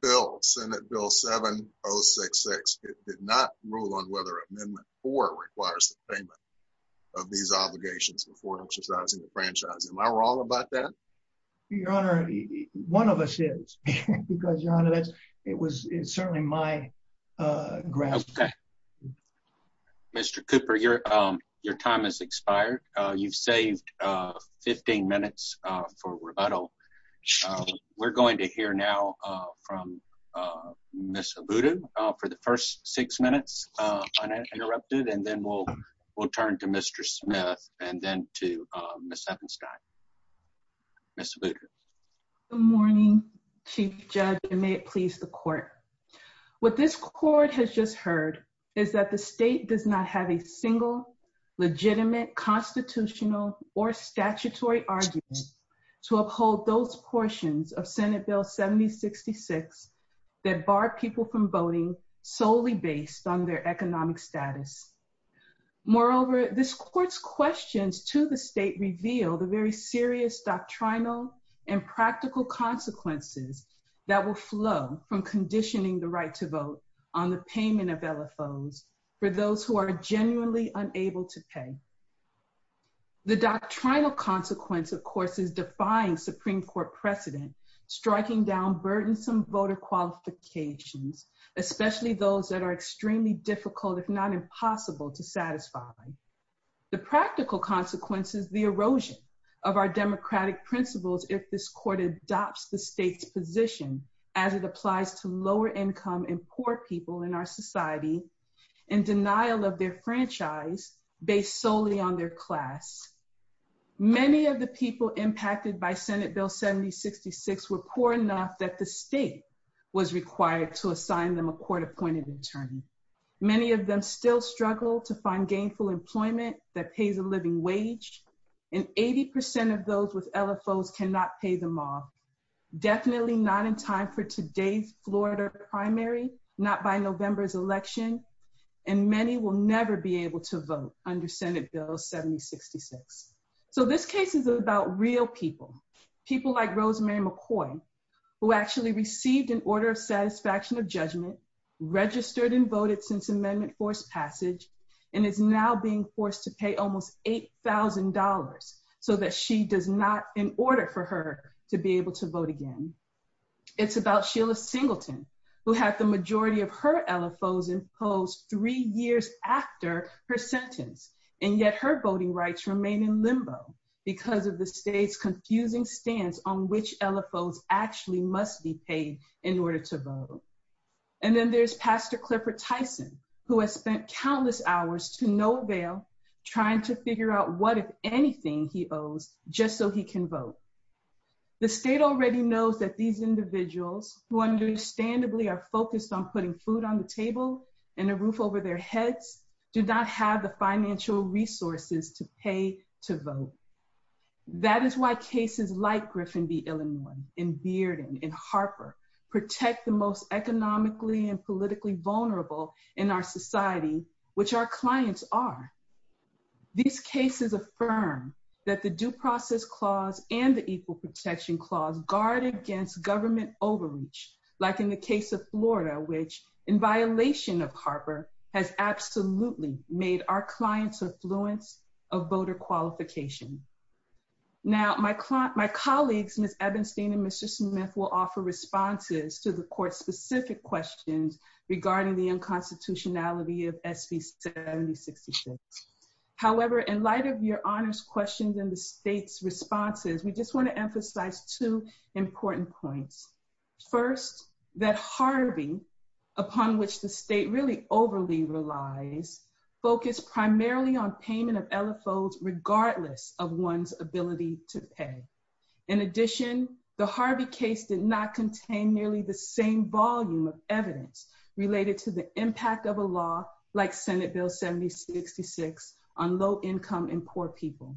bill, Senate Bill 7066. It did not rule on whether Amendment 4 requires the payment of these obligations before exercising the franchise. Am I wrong about that? Your honor, one of us is. It was certainly my grasp. Okay. Mr. Cooper, your time has expired. You've saved 15 minutes for rebuttal. We're going to hear now from Ms. Ubudu for the first six minutes uninterrupted, and then we'll turn to Mr. Smith and then to Ms. Ebenstein. Ms. Ubudu. Good morning, Chief Judge, and may it please the court. What this court has just heard is that the state does not have a single legitimate constitutional or statutory argument to uphold those portions of Senate Bill 7066 that bar people from voting solely based on their economic status. Moreover, this court's questions to the state reveal the very serious doctrinal and practical consequences that will flow from conditioning the right to vote on the payment of LFOs for those who are genuinely unable to pay. The doctrinal consequence, of course, is defying Supreme Court precedent, striking down burdensome voter qualifications, especially those that are extremely difficult, if not impossible, to satisfy. The practical consequence is the erosion of our democratic principles if this court adopts the state's position as it applies to lower-income and poor people in our society in denial of their franchise based solely on their class. Many of the people impacted by Senate Bill 7066 were poor enough that the state was required to assign them a court-appointed attorney. Many of them still struggle to find gainful employment that pays a living wage, and 80% of those with LFOs cannot pay them off, definitely not in time for today's Florida primary, not by November's election, and many will never be able to vote under Senate Bill 7066. So this case is about real people, people like Rosemary McCoy, who actually received an order of satisfaction of judgment, registered and voted since amendment forced passage, and is now being forced to pay almost $8,000 so that she does not, in order for her to be able to vote again. It's about Sheila Singleton, who has the majority of her LFOs imposed three years after her sentence, and yet her voting rights remain in limbo because of the state's confusing stance on which LFOs actually must be voted. And then there's Pastor Clifford Tyson, who has spent countless hours to no avail trying to figure out what, if anything, he owes just so he can vote. The state already knows that these individuals, who understandably are focused on putting food on the table and a roof over their heads, do not have the financial resources to pay to vote. That is why cases like Griffin v. Illinois and Bearden and Harper protect the most economically and politically vulnerable in our society, which our clients are. These cases affirm that the Due Process Clause and the Equal Protection Clause guard against government overreach, like in the case of Florida, which, in violation of Harper, has absolutely made our clients affluent of voter qualification. Now, my colleagues, Ms. Ebenstein and Ms. Chisholm will offer responses to the court's specific questions regarding the unconstitutionality of SB 7066. However, in light of your honors questions and the state's responses, we just want to emphasize two important points. First, that Harvey, upon which the state really overly relies, focused primarily on payment of LFOs regardless of one's ability to pay. In addition, the Harvey case did not contain nearly the same volume of evidence related to the impact of a law like Senate Bill 7066 on low-income and poor people.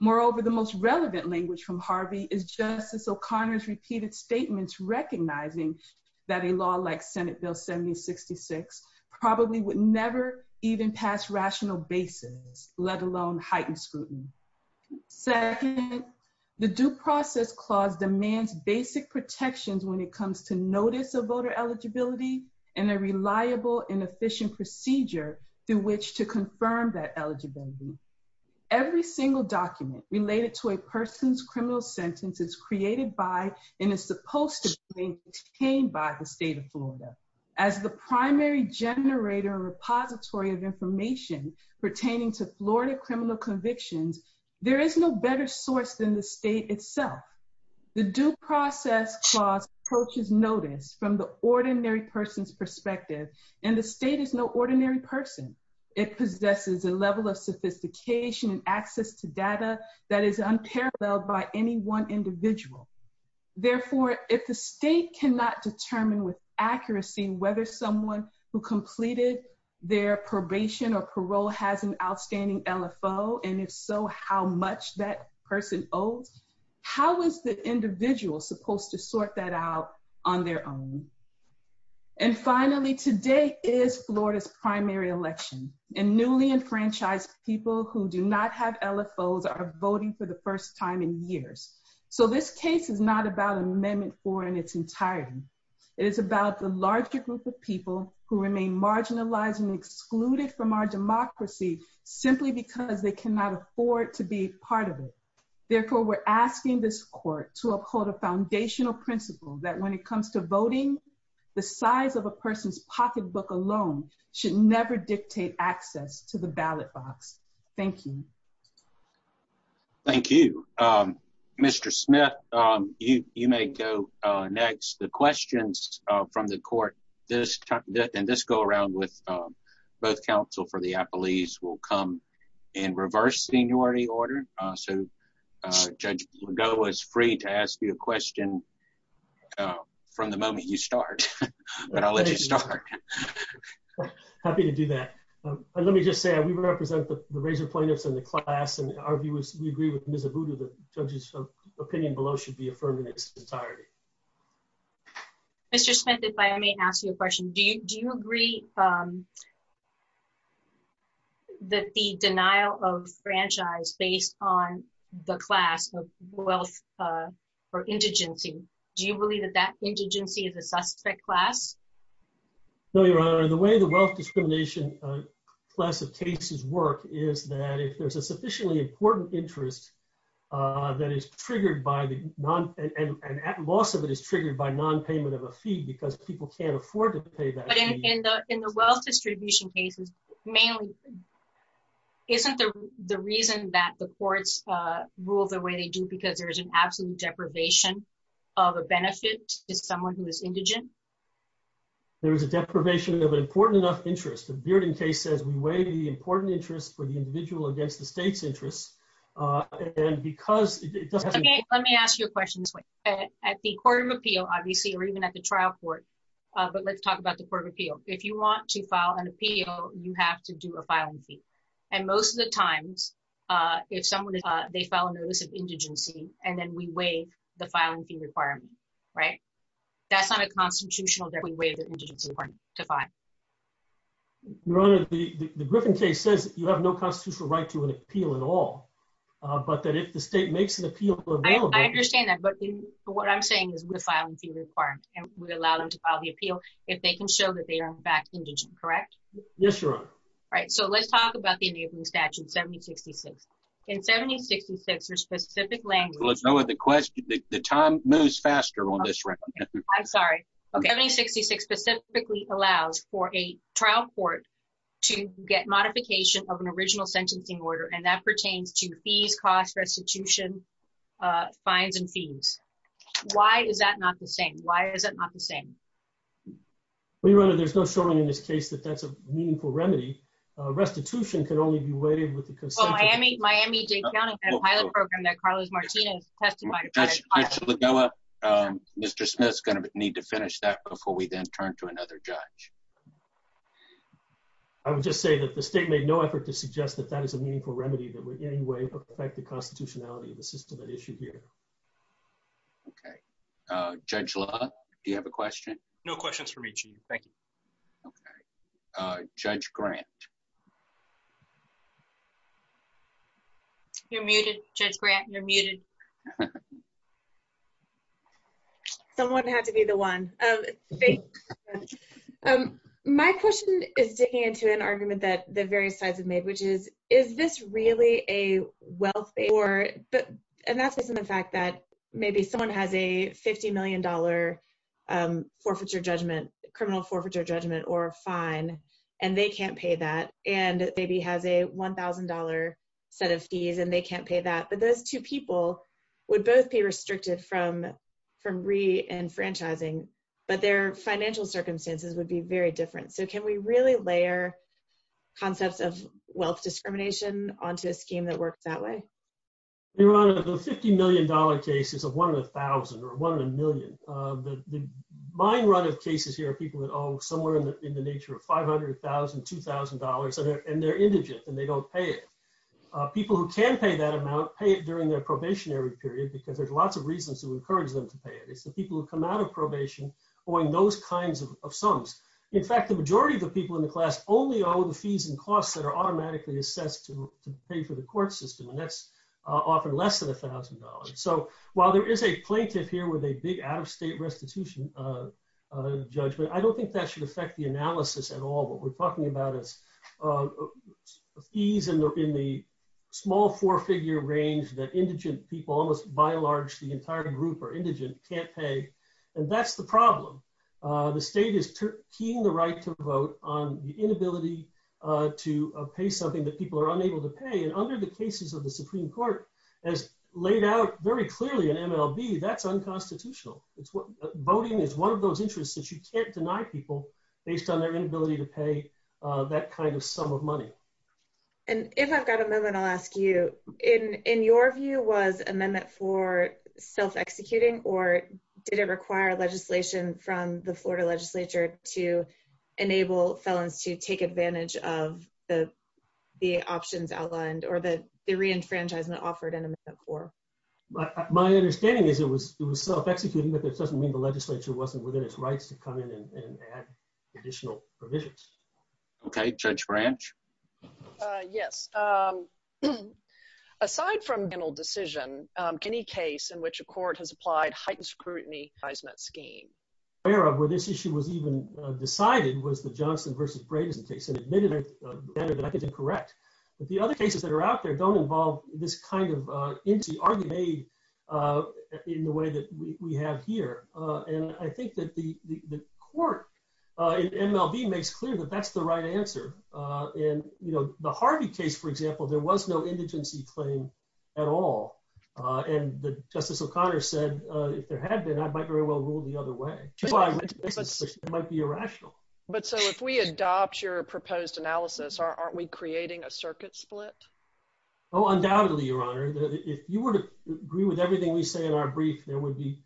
Moreover, the most relevant language from Harvey is Justice O'Connor's repeated statements recognizing that a law like Senate Bill 7066 probably would never even pass rational basis, let alone heightened scrutiny. Second, the Due Process Clause demands basic protections when it comes to notice of voter eligibility and a reliable and efficient procedure through which to confirm that eligibility. Every single document related to a person's criminal sentence is created by and is supposed to be obtained by the state of Florida as the primary generator repository of Florida criminal convictions. There is no better source than the state itself. The Due Process Clause approaches notice from the ordinary person's perspective, and the state is no ordinary person. It possesses a level of sophistication and access to data that is unparalleled by any one individual. Therefore, if the state cannot determine with outstanding LFO, and if so, how much that person owes, how is the individual supposed to sort that out on their own? And finally, today is Florida's primary election, and newly enfranchised people who do not have LFOs are voting for the first time in years. So, this case is not about Amendment 4 in its entirety. It is about the larger group of people who remain marginalized and excluded from our democracy simply because they cannot afford to be part of it. Therefore, we're asking this court to uphold a foundational principle that when it comes to voting, the size of a person's pocketbook alone should never dictate access to the ballot box. Thank you. Thank you. Mr. Smith, you may go next. The questions from the court this time, will come in reverse seniority order. So, Judge Lagoa is free to ask you a question from the moment you start, but I'll let you start. Happy to do that. Let me just say, we represent the razor pointers in the class, and we agree with Ms. Abudu that the judge's opinion below should be affirmed in its entirety. Mr. Smith, if I may ask you a question. Do you agree that the denial of franchise based on the class of wealth or indigency, do you believe that that indigency is a suspect class? No, Your Honor. The way the wealth discrimination class of cases work is that if there's a sufficiently important interest that is triggered by the non, and at loss of it is triggered by non-payment of a fee because people can't afford to pay that fee. But in the wealth distribution cases, mainly, isn't the reason that the courts rule the way they do because there's an absolute deprivation of a benefit to someone who is indigent? There's a deprivation of an important enough interest. The Bearding case says we weigh the important interest for the individual against the state's interest. And because... Okay, let me ask you a question this way. At the court of appeal, obviously, or even at the trial court, but let's talk about the court of appeal. If you want to file an appeal, you have to do a filing fee. And most of the times, if someone is... They file an illicit indigency, and then we weigh the filing fee requirement, right? That's not a constitutional that we weigh the indigency point to find. Your Honor, the Griffin case says that you have no constitutional right to an appeal at all, but that if the state makes an appeal... I understand that, but what I'm saying is we file a fee requirement, and we allow them to file the appeal if they can show that they are, in fact, indigent, correct? Yes, Your Honor. Right. So let's talk about the indigent statute, 7066. In 7066, there's specific language... Let's go with the question. The time moves faster on this record. I'm sorry. 7066 specifically allows for a trial court to get modification of an original sentencing order, and that pertains to fee, cost, restitution, fines, and fees. Why is that not the same? Why is it not the same? Well, Your Honor, there's no showing in this case that that's a meaningful remedy. Restitution can only be weighted with the constitutional... Miami-Dade County had a pilot program that Carlos Martinez testified... Mr. LaBella, Mr. Smith's going to need to finish that before we then turn to another judge. I would just say that the state made no effort to make a remedy that would in any way affect the constitutionality of the system at issue here. Okay. Judge Love, do you have a question? No questions for me, Chief. Thank you. Okay. Judge Grant. You're muted, Judge Grant. You're muted. Someone had to be the one. My question is digging into an argument that the various judges have made. Is this really a welfare... And that's based on the fact that maybe someone has a $50 million forfeiture judgment, criminal forfeiture judgment, or a fine, and they can't pay that, and maybe has a $1,000 set of fees, and they can't pay that. But those two people would both be restricted from re-enfranchising, but their financial circumstances would be very different. So, I'm just wondering if you could elaborate a little bit more on that. Your Honor, the $50 million case is one in a thousand, or one in a million. My run of cases here are people that owe somewhere in the nature of $500,000, $2,000, and they're indigent, and they don't pay it. People who can pay that amount pay it during their probationary period, because there's lots of reasons to encourage them to pay it. It's the people who come out of probation owing those kinds of sums. In fact, the majority of the people in the state have no fees and costs that are automatically assessed to pay for the court system, and that's often less than $1,000. So, while there is a plaintiff here with a big out-of-state restitution judgment, I don't think that should affect the analysis at all. What we're talking about is fees in the small four-figure range that indigent people, almost by and large the entire group are indigent, can't pay. And that's the problem. The state is keying the right to vote on the inability to pay something that people are unable to pay, and under the cases of the Supreme Court, as laid out very clearly in MLB, that's unconstitutional. Voting is one of those interests that you can't deny people based on their inability to pay that kind of sum of money. And if I've got a moment, I'll ask you, in your view, was amendment for self-executing, or did it require legislation from the Florida legislature to enable felons to take advantage of the options outlined, or the re-enfranchisement offered in the amendment for? My understanding is it was self-executing, but that doesn't mean the legislature wasn't within its rights to come in and add additional provisions. Okay. Judge Branch? Yes. Aside from a criminal decision, any case in which a court has applied heightened scrutiny in that scheme? Where this issue was even decided was the Johnson v. Grayson case, and admittedly, that could be correct. But the other cases that are out there don't involve this kind of empty argument in the way that we have here. And I think that the court in MLB makes clear that that's the right answer. In the Harvey case, for example, there was no indigency claim at all. And Justice O'Connor said, if there had been, I might very well rule the other way. It might be irrational. But so if we adopt your proposed analysis, aren't we creating a circuit split? Oh, undoubtedly, Your Honor. If you were to agree with everything we say in our brief, there would be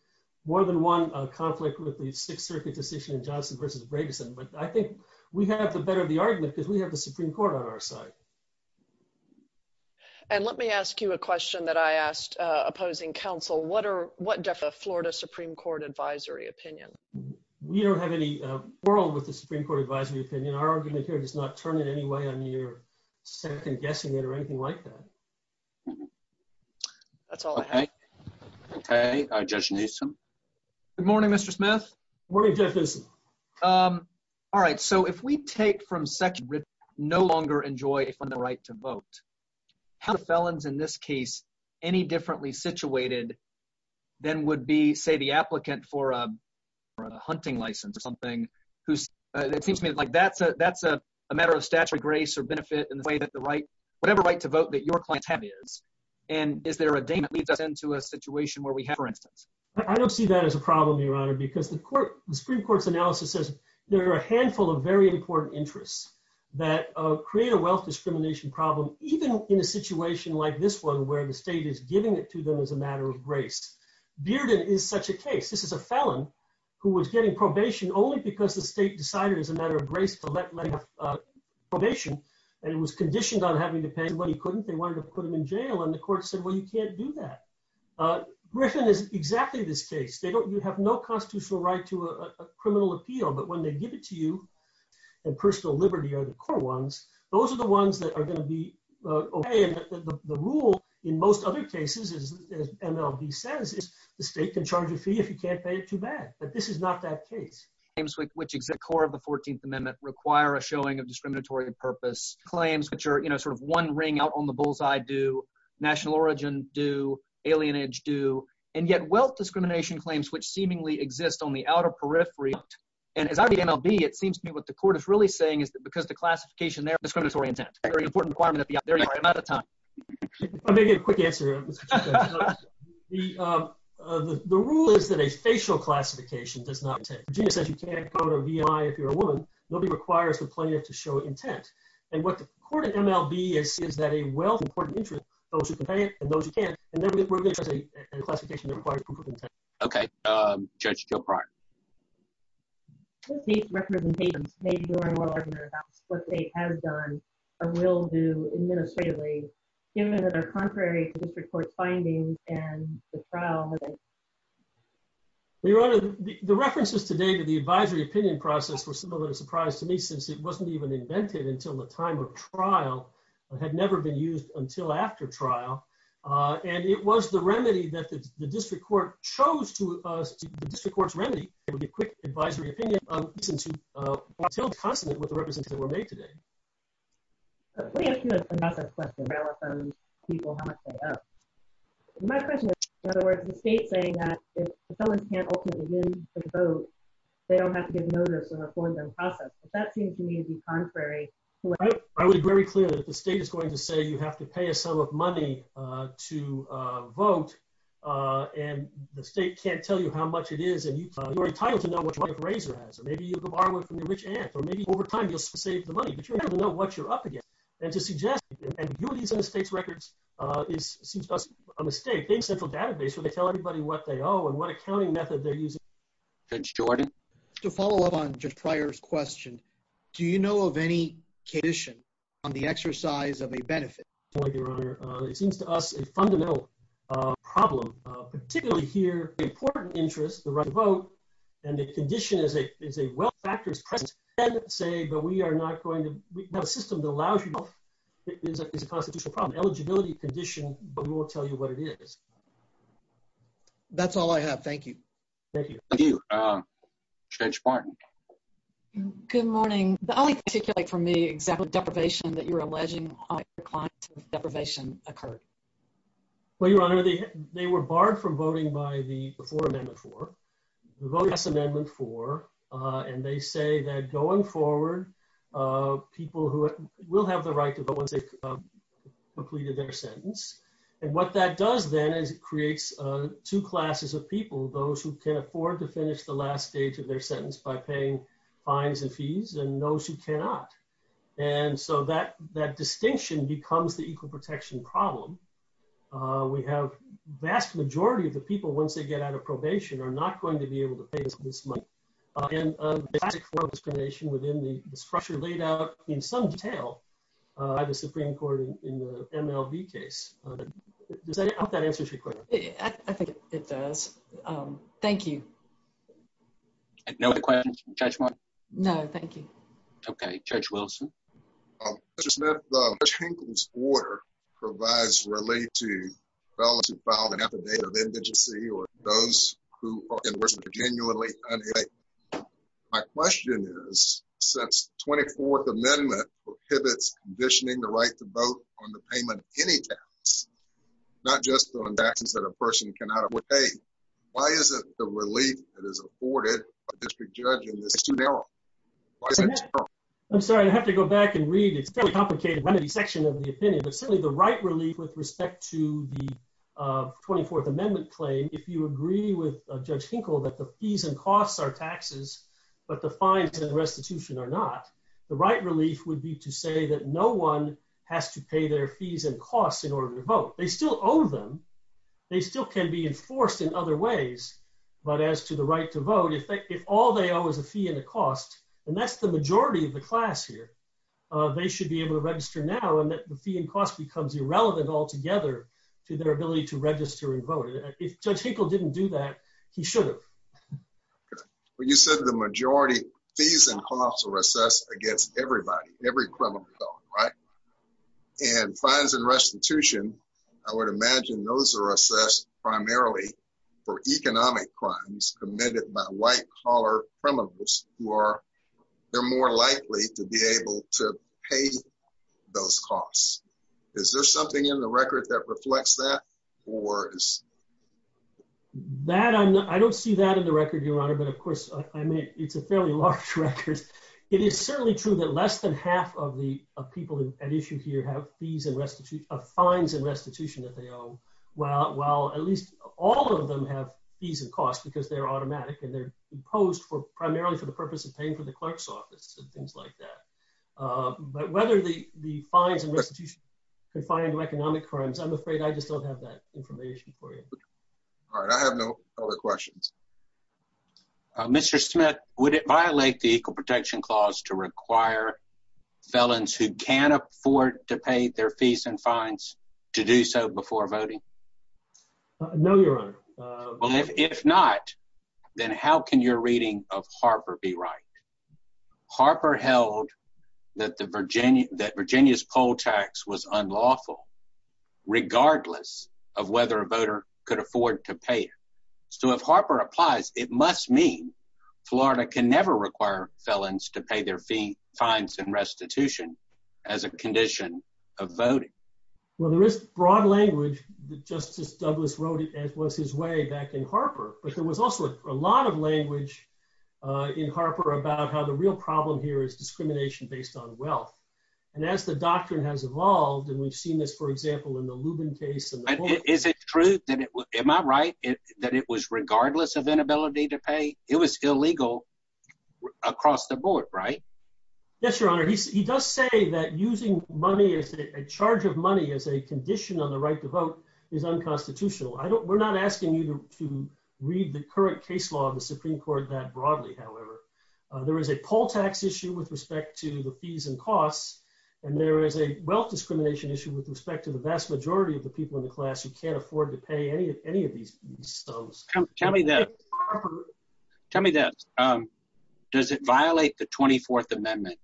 more than one conflict with the Sixth Circuit decision in Johnson v. Grayson. But I think we have the better of the argument because we have the Supreme Court on our side. And let me ask you a question that I asked opposing counsel. What are, what does a Florida Supreme Court advisory opinion? We don't have any quarrel with the Supreme Court advisory opinion. Our argument here does not turn in any way on your second guessing it or anything like that. That's all I have. Okay, Judge Newsom. Good morning, Mr. Smith. Morning, Judge Newsom. Um, all right. So if we take from section no longer enjoy the right to vote, have felons in this case any differently situated than would be, say, the applicant for a hunting license or something, who's, it seems to me like that's a matter of statutory grace or benefit in the way that the right, whatever right to vote that your client has is. And is there a day that leads up into a situation where we have, for instance? I don't see that as a problem, Your Honor, because the Supreme Court's analysis says there are a handful of very important interests that create a wealth discrimination problem, even in a situation like this one, where the state is giving it to them as a matter of grace. Bearden is such a case. This is a felon who was getting probation only because the state decided as a matter of grace to let him have probation. And it was conditioned on having to pay what he couldn't. They wanted to put him in jail. And the court said, well, you can't do that. Grisham is exactly this case. You have no constitutional right to a criminal appeal, but when they give it to you, and personal liberty are the core ones, those are the ones that are going to be okay. And the rule in most other cases, as MLB says, is the state can charge a fee if you can't pay it too bad. But this is not that case. Claims which exit core of the 14th Amendment require a showing of discriminatory purpose. Claims which are, you know, sort of one ring out on the bullseye do. National origin do. Alienage do. And yet, wealth discrimination claims which seemingly exist on the outer periphery. And as I read MLB, it seems to me what the court is really saying is that because the classification there is discriminatory intent, it's a very important requirement of the FBI. I'm out of time. I'll make a quick answer here. The rule is that a facial classification does not exist. Virginia says you can't call it a VI if you're a woman. Nobody requires the plaintiff to show intent. And what the court of MLB is, is that a wealth of court of interest goes with the plaintiff and those who can't. And then we're going to have a classification that requires complete intent. Okay. Judge, go prior. What state's representation may be more or less about what the state has done or will do administratively, given that our contrary district court findings and the trial? Your Honor, the references today to the advisory opinion process was a little surprise to me, since it wasn't even invented until the time of trial. It had never been used until after trial. And it was the remedy that the district court chose to use as the district court's remedy. It was a quick advisory opinion. I'm still confident with the references that were made today. Let me ask you another question. My question is, in other words, the state saying that if someone can't ultimately win the vote, they don't have to get notice in the forensic process. That seems to me to be contrary. I was very clear that the state is going to say you have to pay a sum of money to vote. And the state can't tell you how much it is. And you're entitled to know what type of razor has, or maybe you can borrow it from your rich aunt, or maybe over time, you'll save the money, but you have to know what you're up against. And to suggest, and using the state's records is a mistake, based on the database, so they tell everybody what they owe and what accounting method they're using. Thanks, Jordan. To follow up on Judge Pryor's question, do you know of any condition on the exercise of a benefit? It seems to us a fundamental problem, particularly here, the important interest, the right to vote, and the condition is a well-factored question. We can't say, but we are not going to have a system that allows you to vote. It's a constitutional problem. Eligibility condition, but we won't tell you what it is. That's all I have. Thank you. Thank you. Thank you. Judge Martin. Good morning. I would like to take it from the example of deprivation that you're alleging on your client since deprivation occurred. Well, Your Honor, they were barred from voting by the, before Amendment 4, who voted against Amendment 4, and they say that going forward, people who will have the right to vote once they've completed their sentence. And what that does then is it creates two classes of people, those who can afford to finish the last stage of their sentence by paying fines and fees, and those who cannot. And so that distinction becomes the equal protection problem. We have vast majority of the people, once they get out of probation, are not going to be able to pay this money. Again, that explanation within the structure laid out in some detail by the Supreme Court in the MLB case. I hope that answers your question. I think it does. Thank you. No other questions from Judge Martin? No, thank you. Okay. Judge Wilson. Justice Smith, Judge Hinckley's order provides related to felons who filed an affidavit of 24th Amendment prohibits conditioning the right to vote on the payment of any tax, not just on taxes that a person cannot pay. Why isn't the relief that is afforded by a district judge in this case too narrow? I'm sorry, I'd have to go back and read. It's a fairly complicated remedy section of the opinion, but certainly the right relief with respect to the 24th Amendment claim, if you agree with Judge Hinckley that the fees and costs are taxes, but the fines and restitution are not, the right relief would be to say that no one has to pay their fees and costs in order to vote. They still own them. They still can be enforced in other ways, but as to the right to vote, if all they owe is a fee and a cost, and that's the majority of the class here, they should be able to register now and that the fee and cost becomes irrelevant altogether to their ability to register and vote. If Judge Hinckley didn't do that, he should have. Okay. Well, you said the majority fees and costs are assessed against everybody, every criminal felon, right? And fines and restitution, I would imagine those are assessed primarily for economic crimes committed by white collar criminals who are, they're more likely to be able to pay those costs. Is there something in the record that reflects that or is... That, I'm not, I don't see that in the record, Your Honor, but of course, I mean, it's a fairly large record. It is certainly true that less than half of the people at issue here have fees and restitution, fines and restitution that they owe, while at least all of them have fees and costs because they're automatic and they're imposed primarily for the purpose of paying for the clerk's office and things like that. But whether the fines and restitution can find economic crimes, I'm afraid I just don't have that information for you. All right. I have no other questions. Mr. Smith, would it violate the Equal Protection Clause to require felons who can afford to pay their fees and fines to do so before voting? No, Your Honor. Well, if not, then how can your reading of Harper be right? Harper held that the Virginia, that Virginia's poll tax was unlawful regardless of whether a voter could afford to pay it. So, if Harper applies, it must mean Florida can never require felons to pay their fee, fines and restitution as a condition of voting. Well, there is broad language that Justice Douglas wrote it as was his way back in Harper, but there was also a lot of how the real problem here is discrimination based on wealth. And as the doctrine has evolved, and we've seen this, for example, in the Lubin case. Is it true that it was, am I right, that it was regardless of inability to pay? It was illegal across the board, right? Yes, Your Honor. He does say that using money, a charge of money as a condition of the right to vote is unconstitutional. I don't, we're not asking you to read the current case law of the Supreme Court that broadly, however. There is a poll tax issue with respect to the fees and costs, and there is a wealth discrimination issue with respect to the vast majority of the people in the class who can't afford to pay any of these. Tell me that. Tell me that. Does it violate the 24th Amendment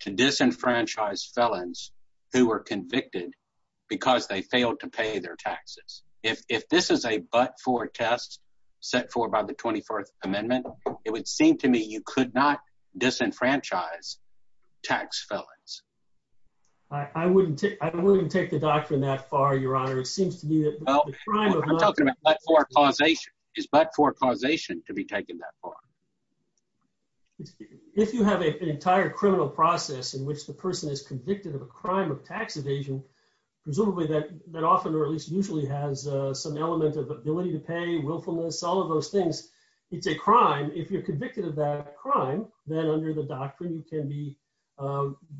to disenfranchise felons who were convicted because they failed to pay their taxes? If this is a but-for test set forth by the 24th Amendment, it would seem to me you could not disenfranchise tax felons. I wouldn't, I wouldn't take the doctrine that far, Your Honor. It seems to me that the crime of not- I'm talking about but-for causation. Is but-for causation to be taken that far? If you have an entire criminal process in which the person is convicted of a some element of ability to pay, willfulness, all of those things, it's a crime. If you're convicted of that crime, then under the doctrine, you can be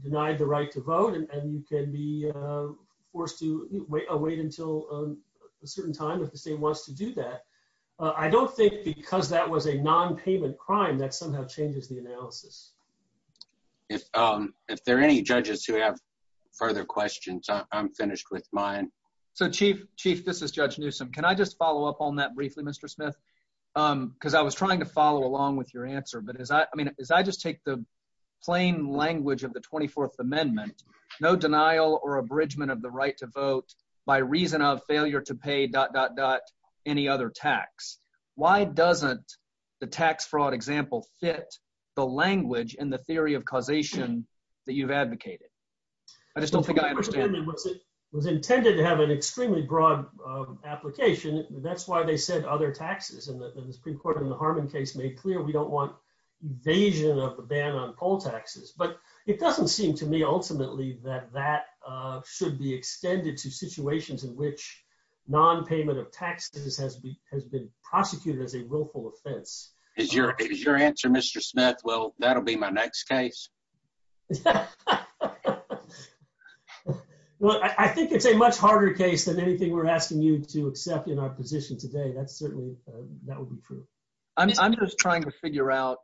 denied the right to vote and you can be forced to wait until a certain time if the state wants to do that. I don't think because that was a non-payment crime, that somehow changes the analysis. If there are any judges who have further questions, I'm finished with mine. So Chief, Chief, this is Judge Newsom. Can I just follow up on that briefly, Mr. Smith? Because I was trying to follow along with your answer, but as I, I mean, as I just take the plain language of the 24th Amendment, no denial or abridgment of the right to vote by reason of failure to pay dot dot dot any other tax. Why doesn't the tax fraud example fit the language in the theory of causation that you've advocated? I just don't think I understand. It was intended to have an extremely broad application. That's why they said other taxes and the Supreme Court in the Harmon case made clear we don't want invasion of a ban on poll taxes. But it doesn't seem to me ultimately that that should be extended to situations in which non-payment of taxes has been prosecuted as a willful offense. Is your answer, Mr. Smith, well, that'll be my next case? Well, I think it's a much harder case than anything we're asking you to accept in our position today. That's certainly, that would be true. I'm just trying to figure out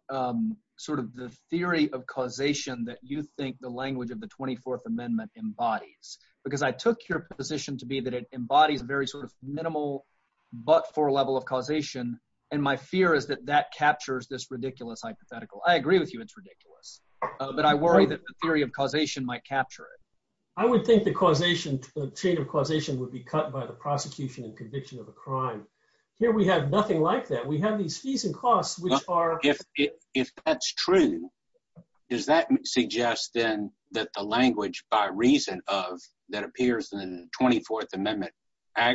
sort of the theory of causation that you think the language of the 24th Amendment embodies. Because I took your position to be that it embodies very sort of minimal but-for level of causation, and my fear is that that captures this ridiculous hypothetical. I agree with you it's ridiculous, but I worry that the theory of causation might capture it. I would think the causation, the chain of causation would be cut by the prosecution and conviction of a crime. Here we have nothing like that. We have these fees and costs which are- If that's true, does that suggest then that the language by reason of that appears in the 24th Amendment, that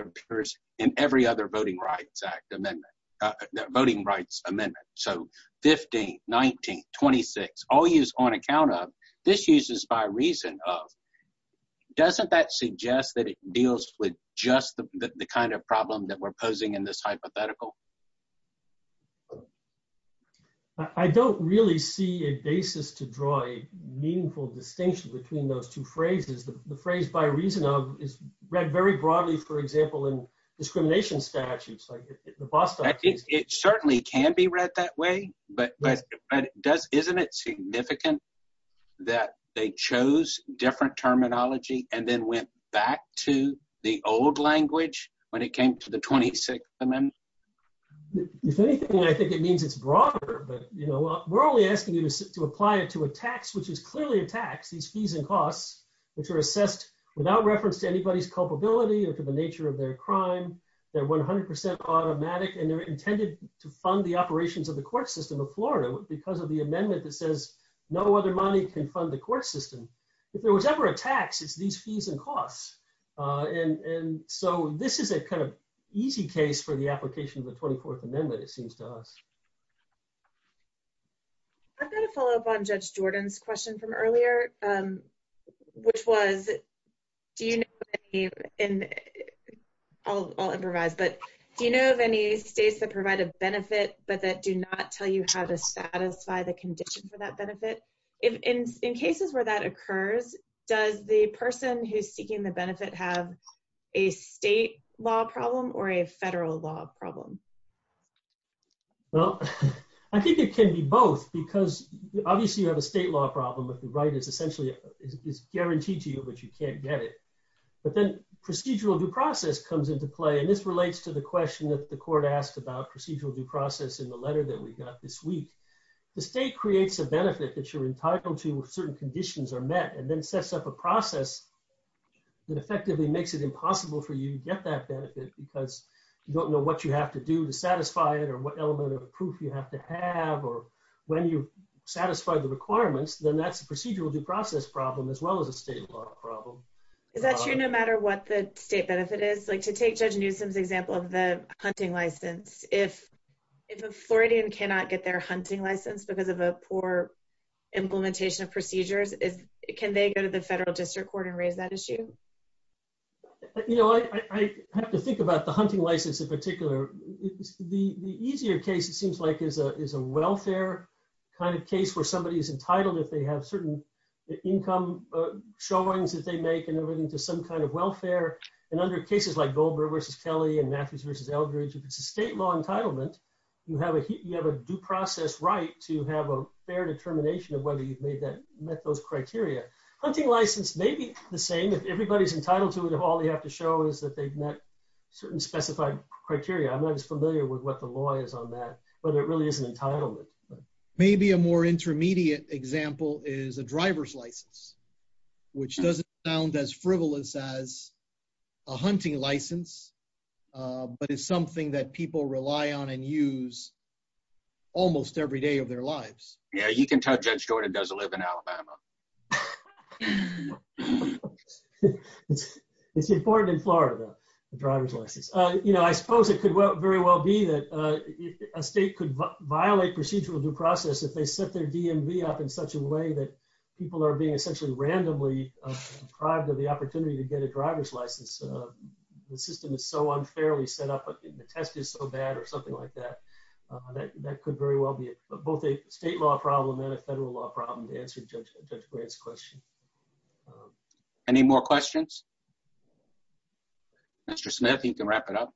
appears in every other Voting Rights Amendment? So 15, 19, 26, all used on account of, this uses by reason of. Doesn't that suggest that it deals with just the kind of problem that we're posing in this hypothetical? I don't really see a basis to draw a meaningful distinction between those two phrases. The phrase by reason of is read very broadly, for example, in discrimination statutes. It certainly can be read that way, but isn't it significant that they chose different terminology and then went back to the old language when it came to the 26th Amendment? If anything, I think it means it's broader, but we're only asking you to apply it to a tax, which is clearly a tax, these fees and costs, which are assessed without reference to anybody's culpability or to the nature of their crime. They're 100% automatic, and they're intended to fund the operations of the court system of Florida because of the amendment that says no other money can fund the court system. If there was ever a tax, it's these fees and costs. And so this is a kind of easy case for the application of the 24th Amendment, it seems to us. I've got a follow-up on Judge Jordan's question from earlier, which was, do you know of any, and I'll improvise, but do you know of any states that provide a benefit, but that do not tell you how to satisfy the condition for that benefit? In cases where that occurs, does the person who's seeking the benefit have a state law problem or a federal law problem? Well, I think it can be both because obviously you have a state law problem, but the right is essentially guaranteed to you, but you can't get it. But then procedural due process comes into play, and this relates to the question that the court asked about procedural due process in the letter that we got this week. The state creates a benefit that you're entitled to when certain conditions are met, and then sets up a process that effectively makes it impossible for you to get that benefit because you don't know what you have to do to satisfy it or what element of proof you have to have, or when you satisfy the requirements, then that's a procedural due process problem as well as a state law problem. Is that true no matter what the state benefit is? Like to take Judge Newsom's example of the hunting license, if an authority cannot get their hunting license because of a poor implementation of procedures, can they go to the federal district court and raise that issue? I have to think about the hunting license in particular. The easier case it seems like is a welfare kind of case where somebody is entitled if they have certain income showings that they make and they're into some kind of welfare. And under cases like Goldberg versus Kelly and Matthews versus Eldridge, if it's a state law right to have a fair determination of whether you've met those criteria, hunting license may be the same. If everybody's entitled to it, all they have to show is that they've met certain specified criteria. I'm not as familiar with what the law is on that, but it really is an entitlement. Maybe a more intermediate example is a driver's license, which doesn't sound as frivolous as a hunting license, but it's something that people rely on and use almost every day of their lives. Yeah, he can touch that story and doesn't live in Alabama. It's important in Florida, the driver's license. I suppose it could very well be that a state could violate procedurals and process if they set their DMV up in such a way that people are being essentially randomly deprived of the opportunity to get a driver's license. The system is so unfairly set up, the test is so bad or something like that. That could very well be both a state law problem and a federal law problem to answer Judge Grant's question. Any more questions? Mr. Smith, you can wrap it up.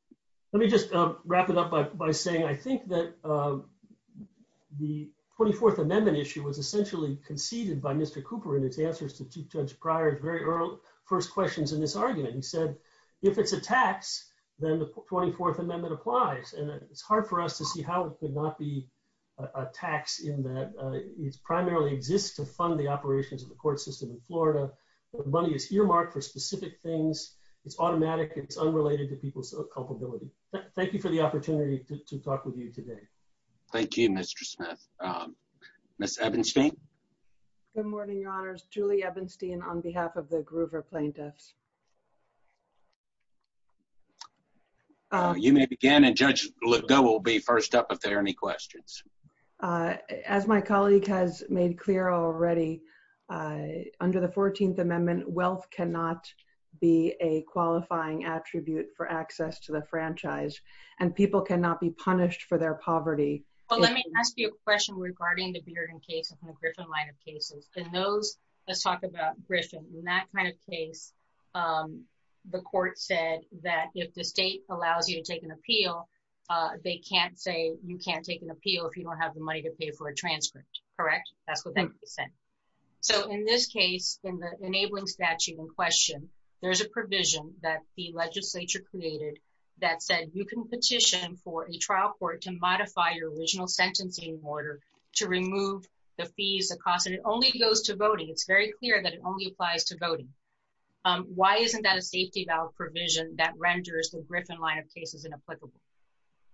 Let me just wrap it up by saying I think that the 24th Amendment issue was essentially conceded by Mr. Cooper in his answers to Chief Questions in this argument. He said, if it's a tax, then the 24th Amendment applies. It's hard for us to see how it could not be a tax in that it primarily exists to fund the operations of the court system in Florida. The money is earmarked for specific things. It's automatic. It's unrelated to people's culpability. Thank you for the opportunity to talk with you today. Thank you, Mr. Smith. Ms. Ebenstein? Good morning, Your Honors. Julie Ebenstein on behalf of the Groover Plaintiffs. You may begin, and Judge Liddell will be first up if there are any questions. As my colleague has made clear already, under the 14th Amendment, wealth cannot be a qualifying attribute for access to the franchise, and people cannot be punished for their poverty. Well, let me ask you a question regarding the Bearden cases and the Griffin line of cases. Let's talk about Griffin. In that kind of case, the court said that if the state allows you to take an appeal, they can't say you can't take an appeal if you don't have the money to pay for a transcript. Correct? That's what they said. In this case, in the enabling statute in question, there's a provision that the legislature created that said you can petition for a trial court to very clear that it only applies to voting. Why isn't that a safety valve provision that renders the Griffin line of cases inapplicable?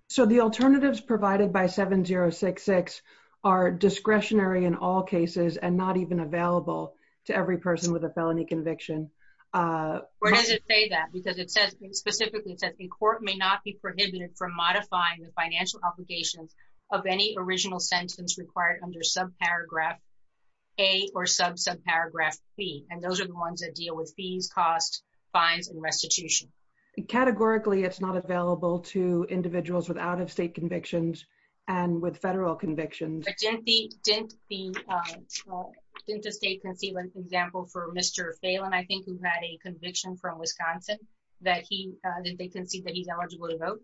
So the alternatives provided by 7066 are discretionary in all cases and not even available to every person with a felony conviction. We're going to say that because it specifically says the court may not be prohibited from modifying the financial obligations of any original sentence required under subparagraph A or subparagraph C. And those are the ones that deal with fees, costs, fines, and restitution. Categorically, it's not available to individuals with out-of-state convictions and with federal convictions. Didn't the state concede, for example, for Mr. Phelan, I think he's had a conviction from Wisconsin that he's eligible to vote?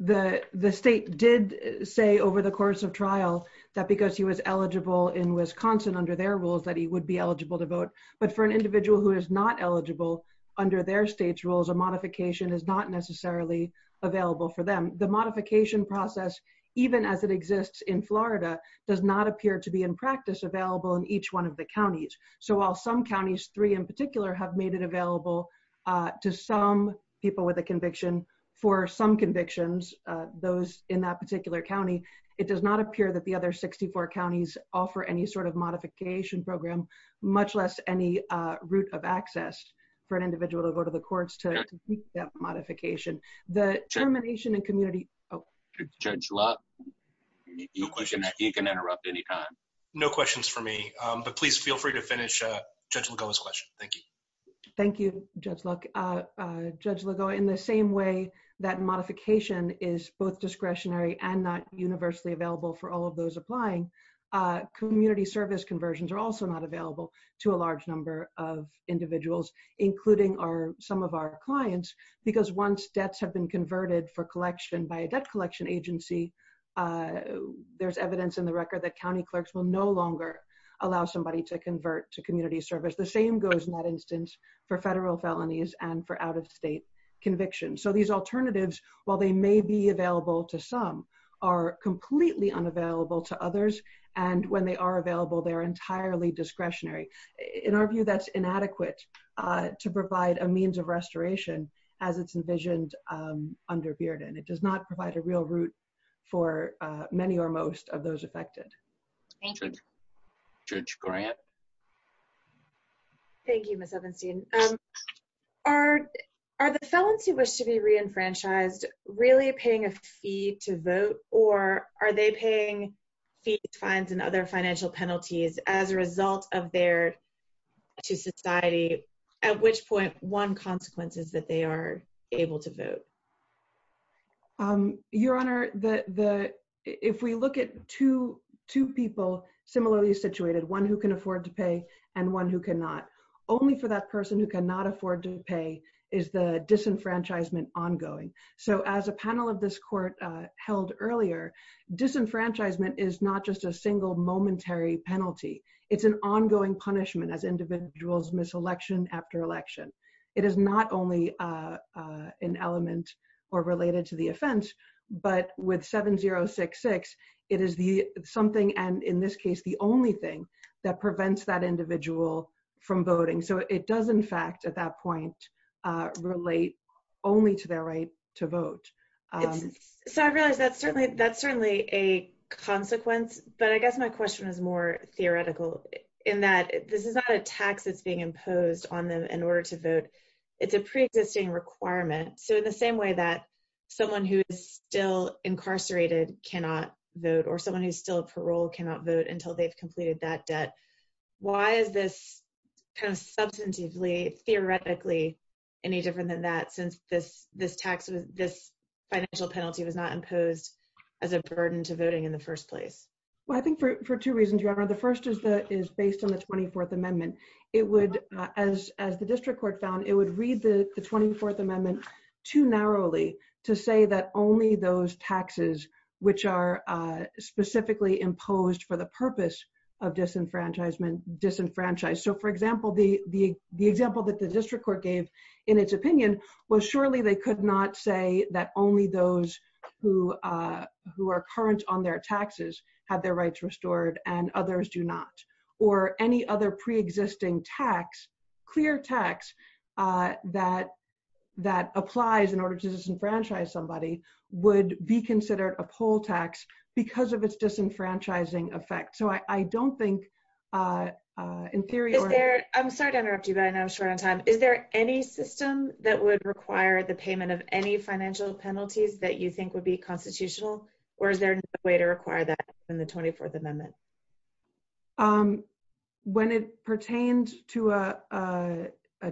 The state did say over the course of trial that because he was eligible in Wisconsin under their rules that he would be eligible to vote. But for an individual who is not eligible under their state's rules, a modification is not necessarily available for them. The modification process, even as it exists in Florida, does not appear to be in practice available in each one of the counties. So while some counties, three in particular, have made it available to some people with a conviction, for some convictions, those in that particular county, it does not appear that the other 64 counties offer any sort of modification program, much less any route of access for an individual to go to the courts to complete that modification. The termination and community... Judge Love, you can interrupt anytime. No questions for me, but please feel free to go ahead. In the same way that modification is both discretionary and not universally available for all of those applying, community service conversions are also not available to a large number of individuals, including some of our clients, because once debts have been converted for collection by a debt collection agency, there's evidence in the record that county clerks will no longer allow somebody to convert to community service. The same goes in that instance for federal felonies and for out-of-state convictions. So these alternatives, while they may be available to some, are completely unavailable to others, and when they are available, they're entirely discretionary. In our view, that's inadequate to provide a means of restoration as it's envisioned under Bearden. It does not provide a real route for many or most of those affected. Thank you. Judge Grant? Thank you, Ms. Ovenstein. Are the felons who wish to be reenfranchised really paying a fee to vote, or are they paying fees, fines, and other financial penalties as a result of their... to society, at which point one consequence is that they are able to vote? Your Honor, if we look at two people similarly situated, one who can afford to pay and one who cannot, only for that person who cannot afford to pay is the disenfranchisement ongoing. So as a panel of this court held earlier, disenfranchisement is not just a single momentary penalty. It's an ongoing punishment as individuals miss election after election. It is not only an element or related to the offense, but with 7066, it is something, and in this case, the only thing that prevents that individual from voting. So it does, in fact, at that point, relate only to their right to vote. So I realize that's certainly a consequence, but I guess my question is more theoretical in that this is not a tax that's being imposed on them in order to vote. It's a pre-existing requirement. So in the same way that someone who is still incarcerated cannot vote, or someone who's still on parole cannot vote until they've completed that debt, why is this kind of substantively, theoretically, any different than that since this financial penalty was not imposed as a burden to voting in the first place? Well, I think for two reasons, Your Honor. The first is based on the 24th Amendment. It would, as the District Court found, it would read the 24th Amendment too narrowly to say that only those taxes which are specifically imposed for the purpose of disenfranchisement disenfranchise. So for example, the example that the District Court gave in its opinion was surely they could not say that only those who are current on their taxes have their rights restored and others do not, or any other pre-existing tax, clear tax that applies in order to disenfranchise somebody would be considered a poll tax because of its disenfranchising effect. So I don't think in theory or... I'm sorry to interrupt you, but I know I'm short on time. Is there any system that would require the payment of any financial penalties that you think would be constitutional, or is there no way to require that in the 24th Amendment? When it pertains to a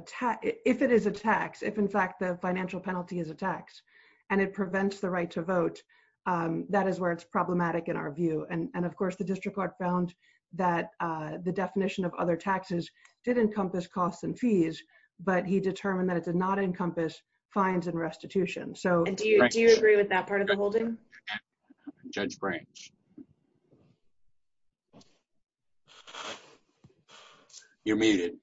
tax, if it is a tax, if in fact the financial penalty is a tax and it prevents the right to vote, that is where it's problematic in our view. And of course, the District Court found that the definition of other taxes did encompass costs and fees, but he determined that it did not encompass fines and restitution. And do you agree with that part of the holding? Judge Branch. You're muted.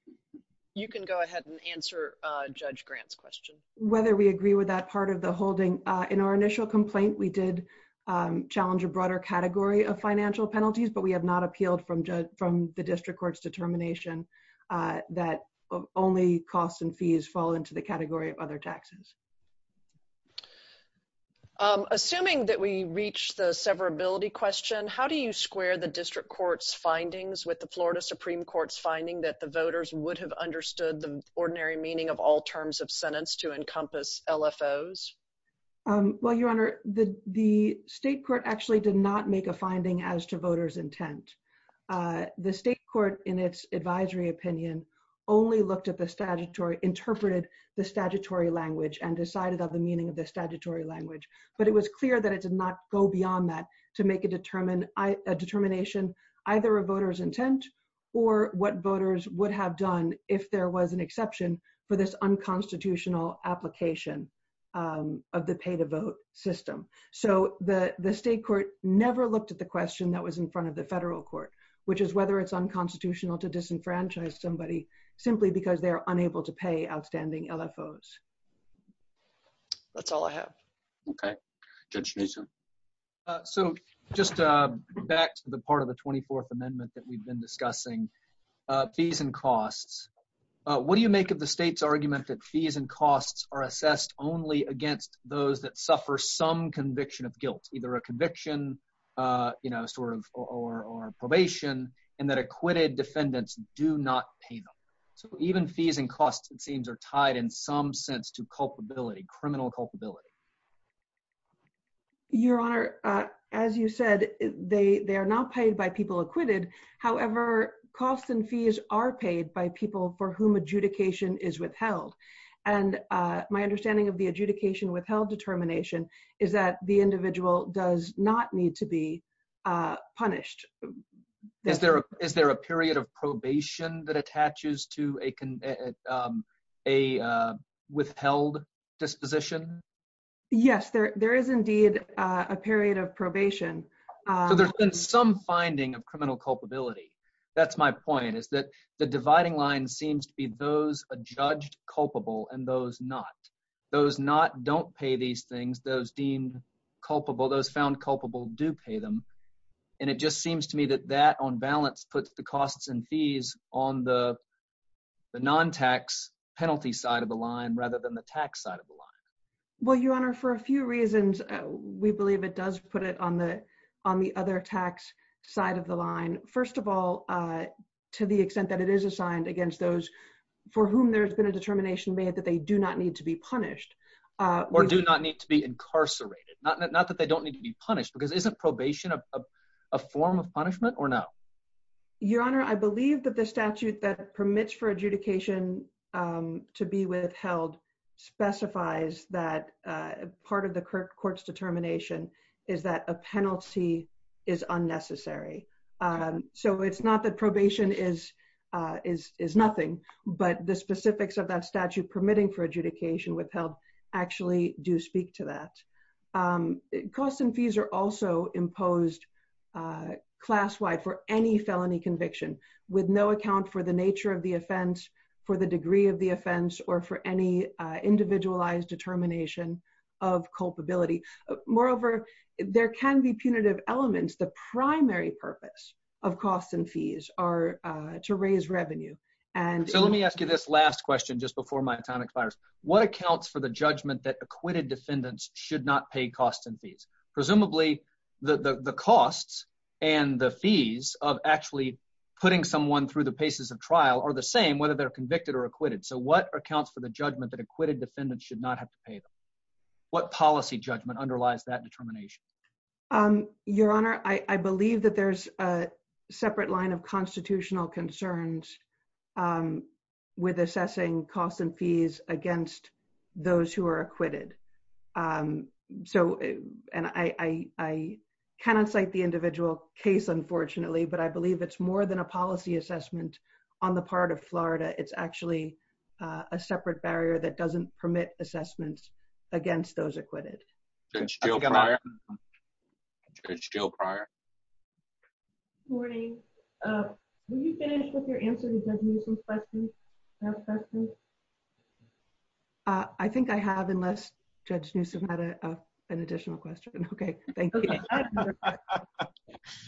You can go ahead and answer Judge Grant's question. Whether we agree with that part of the holding. In our initial complaint, we did challenge a broader category of financial penalties, but we have not appealed from the District Court's determination that only costs and fees fall into the category of other taxes. Assuming that we reached the severability question, how do you square the District Court's findings with the Florida Supreme Court's finding that the voters would have understood the ordinary meaning of all terms of sentence to encompass LFOs? Well, Your Honor, the State Court actually did not make a finding as to voters' intent. The State Court, in its advisory opinion, only looked at the statutory, interpreted the statutory language, and decided on the meaning of the statutory language. But it was clear that it did not go beyond that to make a determination either of voters' intent or what voters would have done if there was an exception for this unconstitutional application of the pay-to-vote system. So the State Court never looked at the question that was in front of the federal court, which is whether it's unconstitutional to disenfranchise somebody simply because they're unable to pay outstanding LFOs. That's all I have. Okay. Judge Neeson. So just back to the part of the 24th Amendment that we've been discussing, fees and costs. What do you make of the State's argument that fees and costs are assessed only against those that suffer some conviction of guilt, either a conviction, you know, or probation, and that acquitted defendants do not pay them? So even fees and costs, it seems, are tied in some sense to culpability, criminal culpability. Your Honor, as you said, they are not paid by people acquitted. However, costs and fees are paid by people for whom adjudication is withheld. And my understanding of the adjudication withheld determination is that the individual does not need to be punished. Is there a period of probation that attaches to a withheld disposition? Yes, there is indeed a period of probation. So there's been some finding of criminal culpability. That's my point, is that the those deemed culpable, those found culpable, do pay them. And it just seems to me that that, on balance, puts the costs and fees on the non-tax penalty side of the line rather than the tax side of the line. Well, Your Honor, for a few reasons, we believe it does put it on the other tax side of the line. First of all, to the extent that it is assigned against those for whom there's a determination made that they do not need to be punished. Or do not need to be incarcerated. Not that they don't need to be punished, because isn't probation a form of punishment or no? Your Honor, I believe that the statute that permits for adjudication to be withheld specifies that part of the court's determination is that a penalty is unnecessary. So it's not that probation is nothing, but the specifics of that statute permitting for adjudication withheld actually do speak to that. Costs and fees are also imposed class-wide for any felony conviction, with no account for the nature of the offense, for the degree of the offense, or for any individualized determination of culpability. Moreover, there can be punitive elements. The to raise revenue. So let me ask you this last question just before my panic fires. What accounts for the judgment that acquitted defendants should not pay costs and fees? Presumably, the costs and the fees of actually putting someone through the paces of trial are the same whether they're convicted or acquitted. So what accounts for the judgment that acquitted defendants should not have to pay them? What policy judgment underlies that determination? Your Honor, I believe that there's a separate line of constitutional concerns with assessing costs and fees against those who are acquitted. So, and I cannot cite the individual case, unfortunately, but I believe it's more than a policy assessment on the part of Florida. It's actually a separate barrier that doesn't permit assessments against those acquitted. It's still prior. Good morning. Will you finish with your answer to Judge Neuse's question? I think I have, unless Judge Neuse has had an additional question. Okay. I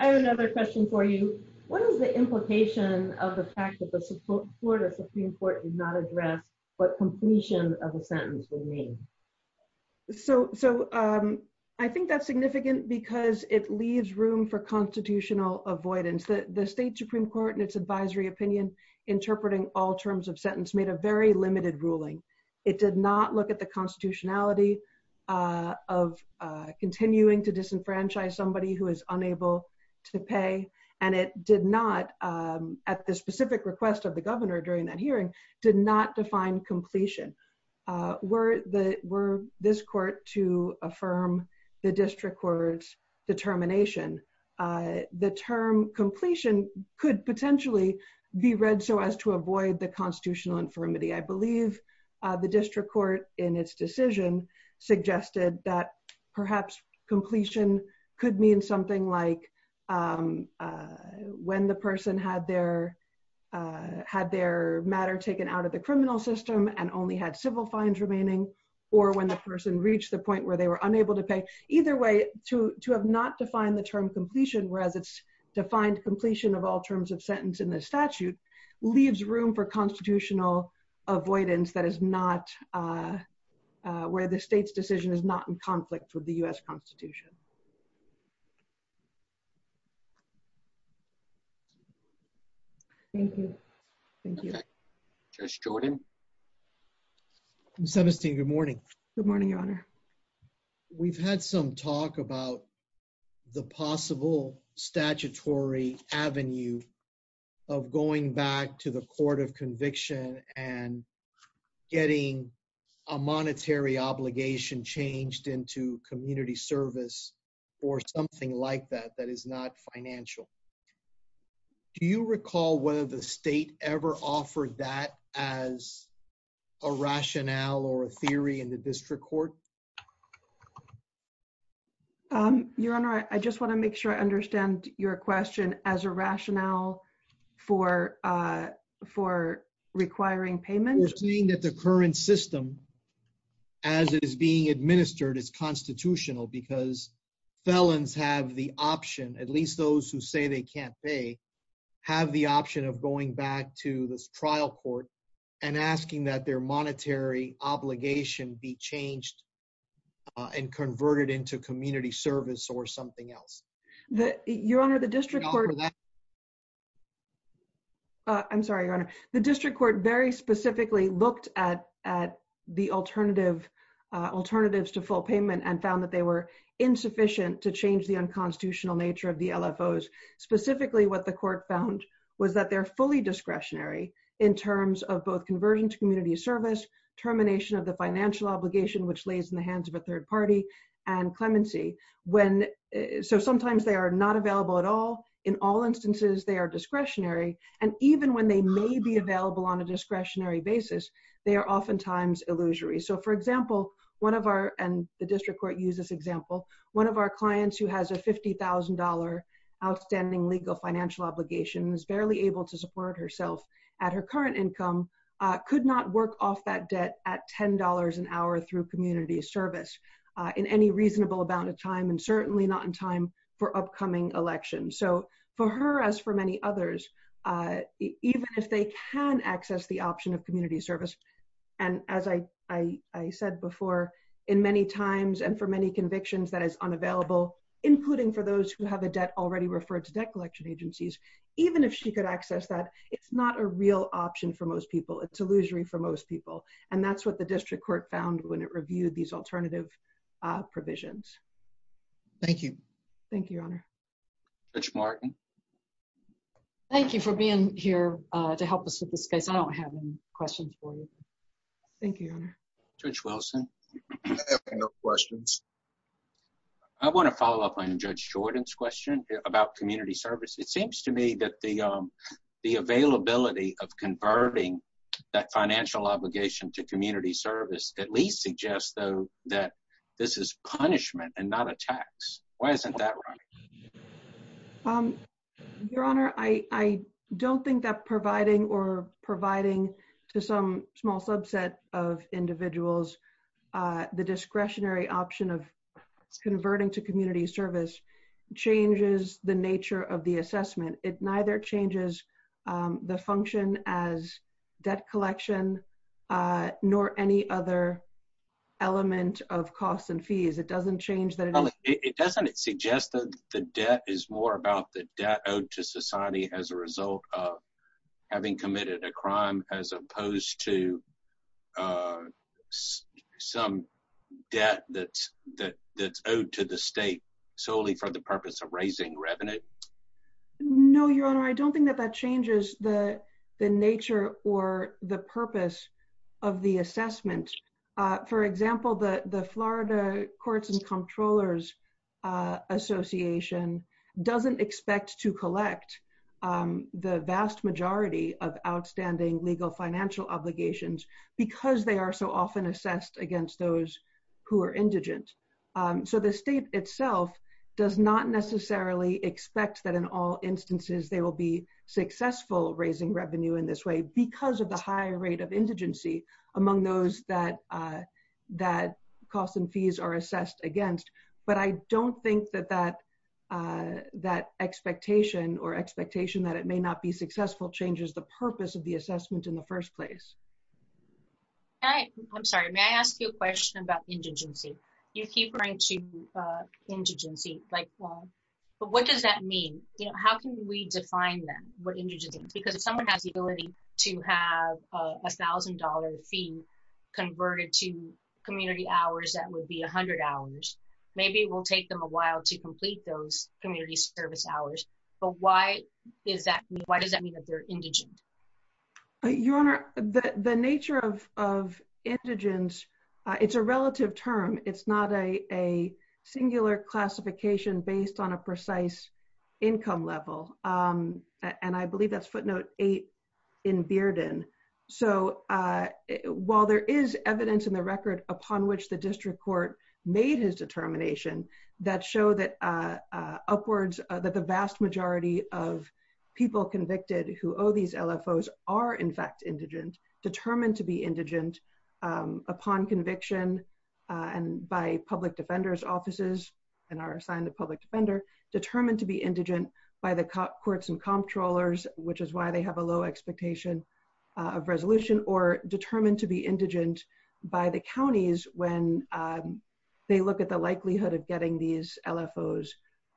have another question for you. What is the implication of the fact that the Florida Supreme Court did not address what completion of a sentence would mean? So, I think that's significant because it leaves room for constitutional avoidance. The state Supreme Court in its advisory opinion, interpreting all terms of sentence made a very limited ruling. It did not look at the constitutionality of continuing to disenfranchise somebody who is unable to pay. And it did not, at the specific request of the governor during that hearing, did not define completion. Were this court to affirm the district court's determination? The term completion could potentially be read so as to avoid the constitutional infirmity. I believe the district court in its decision suggested that perhaps completion could mean something like a, when the person had their, had their matter taken out of the criminal system and only had civil fines remaining, or when the person reached the point where they were unable to pay. Either way, to have not defined the term completion, whereas it's defined completion of all terms of sentence in the statute, leaves room for constitutional avoidance that is not, where the state's decision is not in conflict with the US constitution. Thank you. Thank you. Judge Jordan. Senator Steeve, good morning. Good morning, your honor. We've had some talk about the possible statutory avenue of going back to the court of conviction and getting a monetary obligation changed into community service or something like that that is not financial. Do you recall whether the state ever offered that as a rationale or a theory in the district court? Your honor, I just want to make sure I understand your question as a rationale for requiring payment. We're seeing that the current system, as it is being administered, is constitutional because felons have the option, at least those who say they can't pay, have the option of going back to the trial court and asking that their monetary obligation be changed and converted into community service or something else. Your honor, the district court, I'm sorry, your honor, the district court very specifically looked at the alternatives to full payment and found that they were insufficient to change the unconstitutional nature of the LFOs. Specifically, what the court found was that they're fully discretionary in terms of both conversion to community service, termination of the financial obligation, which lays in the hands of a third party, and clemency. Sometimes they are not available at all. In all instances, they are available on a discretionary basis. They are oftentimes illusory. For example, one of our, and the district court used this example, one of our clients who has a $50,000 outstanding legal financial obligation, who's barely able to support herself at her current income, could not work off that debt at $10 an hour through community service in any reasonable amount of time and certainly not in time for upcoming elections. So for her, as for many others, even if they can access the option of community service, and as I said before, in many times and for many convictions that is unavailable, including for those who have a debt already referred to debt collection agencies, even if she could access that, it's not a real option for most people. It's illusory for most people. And that's what the district court found when it reviewed these alternative provisions. Thank you. Thank you, Your Honor. Judge Martin? Thank you for being here to help us with this case. I don't have any questions for you. Thank you, Your Honor. Judge Wilson? I have no questions. I want to follow up on Judge Jordan's question about community service. It seems to me that the availability of converting that financial obligation to community service at least suggests, though, that this is punishment and not a tax. Why isn't that right? Your Honor, I don't think that providing or providing to some small subset of individuals the discretionary option of converting to community service changes the nature of the element of costs and fees. It doesn't change that... It doesn't suggest that the debt is more about the debt owed to society as a result of having committed a crime as opposed to some debt that's owed to the state solely for the purpose of raising revenue? No, Your Honor. I don't think that that changes the nature or the purpose of the assessment. For example, the Florida Courts and Comptrollers Association doesn't expect to collect the vast majority of outstanding legal financial obligations because they are so often assessed against those who are indigent. The state itself does not necessarily expect that in all instances they will be successful raising revenue in this way because of the high rate of indigency among those that cost and fees are assessed against. But I don't think that that expectation or expectation that it may not be successful changes the purpose of the assessment in the first place. I'm sorry. May I ask you a question about indigency? You keep going to indigency. What does that mean? How can we define then what indigency is? Because someone has the ability to have a $1,000 fee converted to community hours that would be 100 hours. Maybe it will take them a while to complete those community service hours. But why does that mean that they're indigent? Your Honor, the nature of indigence, it's a relative term. It's not a singular classification based on a precise income level. And I believe that's footnote eight in Bearden. So while there is evidence in the record upon which the district court made his determination, that show that upwards that the vast majority of people convicted who owe these LFOs are, in fact, indigent, determined to be indigent upon conviction and by public defender's offices, and are assigned a public defender, determined to be indigent by the courts and comptrollers, which is why they have a low expectation of resolution, or determined to be indigent by the counties when they look at the likelihood of getting these LFOs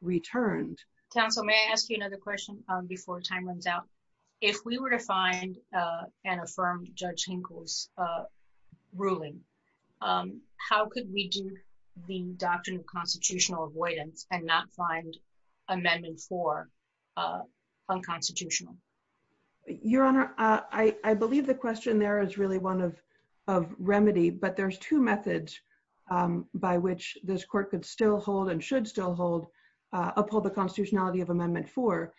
returned. Counsel, may I ask you another question before time runs out? If we were to find and affirm Judge Hinkle's ruling, how could we do the doctrine of constitutional avoidance and not find amendment four unconstitutional? Your Honor, I believe the question there is really one of remedy, but there's two methods by which this court could still hold and should still hold uphold the constitutionality of amendment four,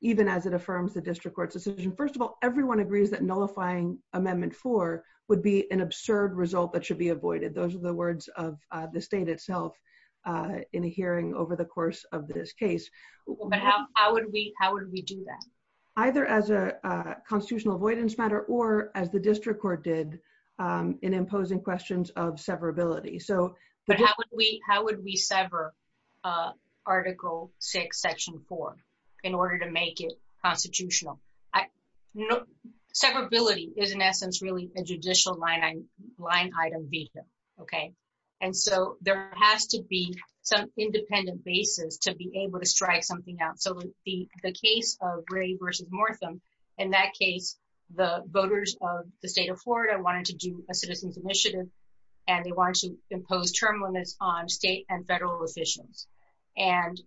even as it affirms the district court's decision. First of all, everyone agrees that nullifying amendment four would be an absurd result that should be avoided. Those are the words of the state itself in the hearing over the course of this case. How would we do that? Either as a constitutional avoidance matter or as the district court did in imposing questions of severability. How would we sever article six, section four, in order to make it constitutional? Severability is, in essence, really a judicial line item visa. There has to be some independent basis to be able to strike something out. In the case of Ray v. Mortham, in that case, the voters of the state of Florida wanted to do a citizen's initiative, and they wanted to impose term limits on state and federal officials.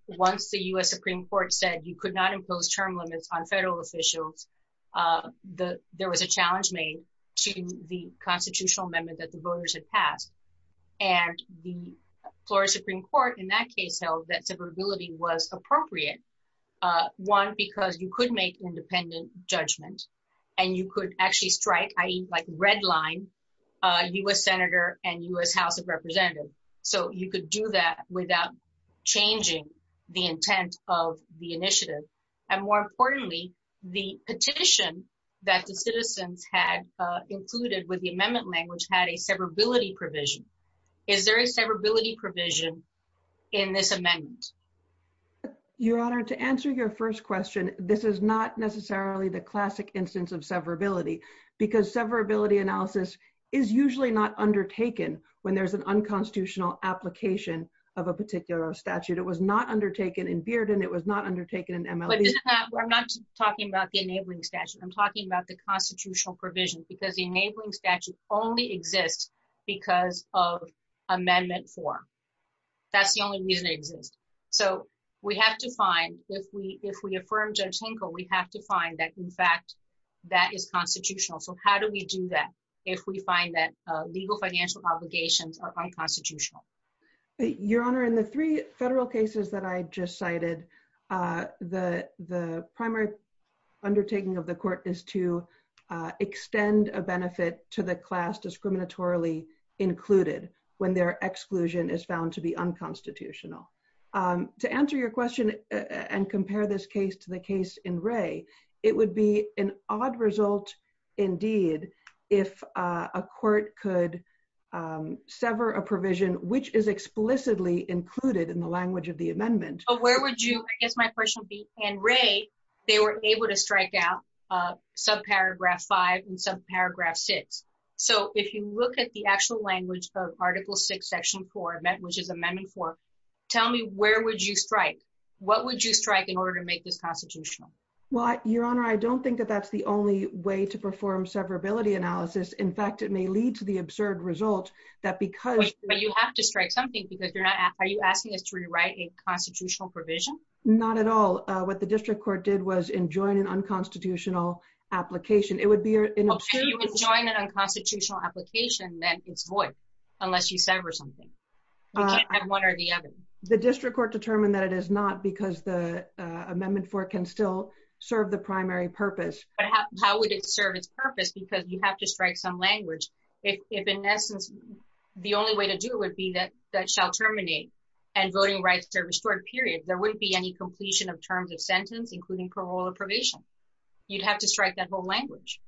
Once the U.S. Supreme Court said you could not impose term limits on federal officials, there was a challenge made to the constitutional amendment that the voters had passed. The Florida Supreme Court, in that case, held that severability was appropriate. One, because you could make independent judgments, and you could actually strike, i.e., red line, U.S. senator and U.S. changing the intent of the initiative. More importantly, the petition that the citizens had included with the amendment language had a severability provision. Is there a severability provision in this amendment? Your Honor, to answer your first question, this is not necessarily the classic instance of severability, because severability analysis is usually not undertaken when there's an unconstitutional application of a particular statute. It was not undertaken in Bearden. It was not undertaken in MLB. I'm not talking about the enabling statute. I'm talking about the constitutional provisions, because the enabling statute only exists because of amendment four. That's the only reason it exists. If we affirm Judge Hinkle, we have to find that, in fact, that is constitutional. How do we do that if we find that legal financial obligations are unconstitutional? Your Honor, in the three federal cases that I just cited, the primary undertaking of the court is to extend a benefit to the class discriminatorily included when their exclusion is found to be unconstitutional. To answer your question and sever a provision, which is explicitly included in the language of the amendment. Where would you, I guess my question would be, Anne Rae, they were able to strike out subparagraph five and subparagraph six. If you look at the actual language of article six, section four, which is amendment four, tell me where would you strike? What would you strike in order to make this constitutional? Your Honor, I don't think that that's the only way to perform severability analysis. In fact, it may lead to the absurd result that because- Wait, but you have to strike something because you're not, are you asking it to rewrite a constitutional provision? Not at all. What the district court did was enjoin an unconstitutional application. It would be- Well, if you enjoin an unconstitutional application, then it's voiced, unless you sever something. You can't have one or the other. The district court determined that it is not because the amendment four can still serve the primary purpose. How would it serve its purpose? Because you have to strike some language. If in essence, the only way to do it would be that that shall terminate and voting rights service court, period. There wouldn't be any completion of terms of sentence, including parole or probation. You'd have to strike that whole language.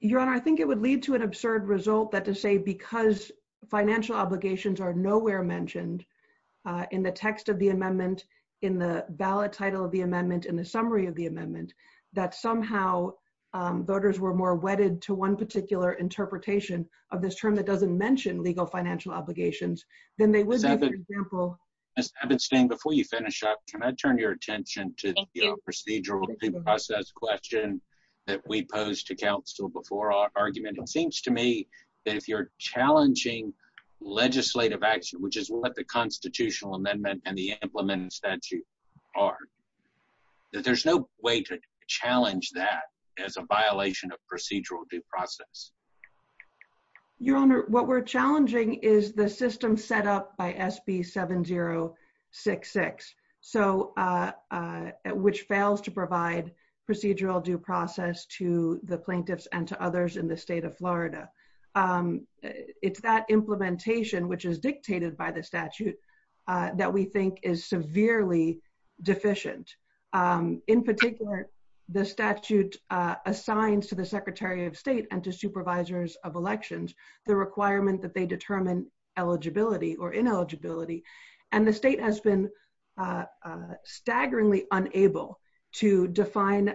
Your Honor, I think it would lead to an absurd result that to say because financial obligations are nowhere mentioned in the text of the amendment, in the ballot title of the amendment, in the summary of the amendment, that somehow voters were more wedded to one particular interpretation of this term that doesn't mention legal financial obligations, than they would be, for example- Ms. Epstein, before you finish up, can I turn your attention to the procedural due process question that we posed to counsel before our argument? It seems to me that if you're challenging legislative action, which is what the constitutional amendment and the implementing statute are, there's no way to challenge that as a violation of procedural due process. Your Honor, what we're challenging is the system set up by SB 7066, which fails to provide procedural due process to the plaintiffs and to others in the state of Florida. It's that implementation, which is dictated by the statute, that we think is severely deficient. In particular, the statute assigned to the Secretary of State and to supervisors of elections, the requirement that they determine eligibility or ineligibility, and the state has been staggeringly unable to define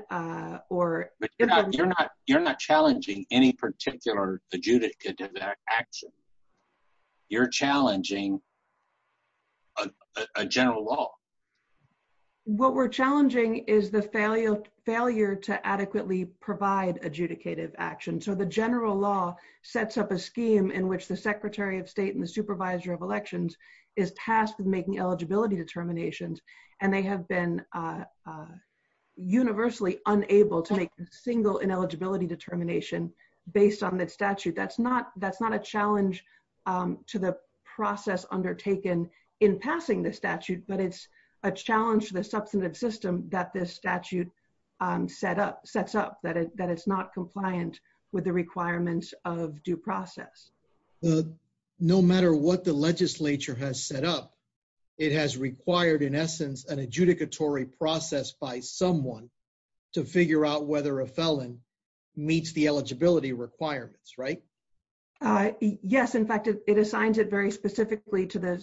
or- You're not challenging any particular adjudicative action. You're challenging a general law. What we're challenging is the failure to adequately provide adjudicative action. So, the general law sets up a scheme in which the Secretary of State and the supervisor of elections is tasked with making eligibility determinations, and they have been universally unable to make single ineligibility determination based on the statute. That's not a challenge to the process undertaken in passing the statute, but it's a challenge to the substantive system that this statute sets up, that it's not compliant with the requirements of due process. No matter what the legislature has set up, it has required, in essence, an adjudicatory process by someone to figure out whether a felon meets the eligibility requirements, right? Yes. In fact, it assigns it very specifically to the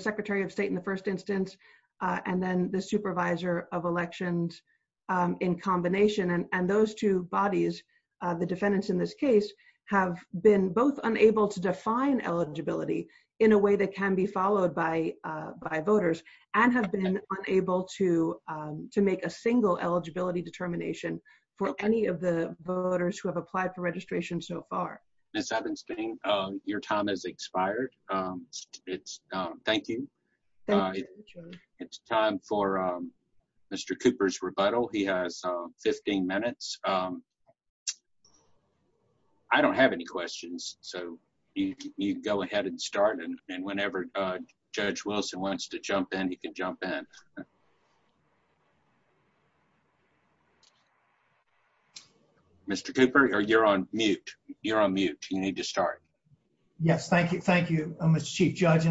Secretary of State in the first instance, and then the supervisor of elections in combination. Those two bodies, the defendants in this case, have been both unable to define eligibility in a way that can be unable to make a single eligibility determination for any of the voters who have applied for registration so far. Ms. Ebenstein, your time has expired. Thank you. It's time for Mr. Cooper's rebuttal. He has 15 minutes. I don't have any questions, so you go ahead and start, and whenever Judge Wilson wants to jump in, he can jump in. Mr. Cooper, you're on mute. You're on mute. You need to start. Yes. Thank you, Mr. Chief Judge.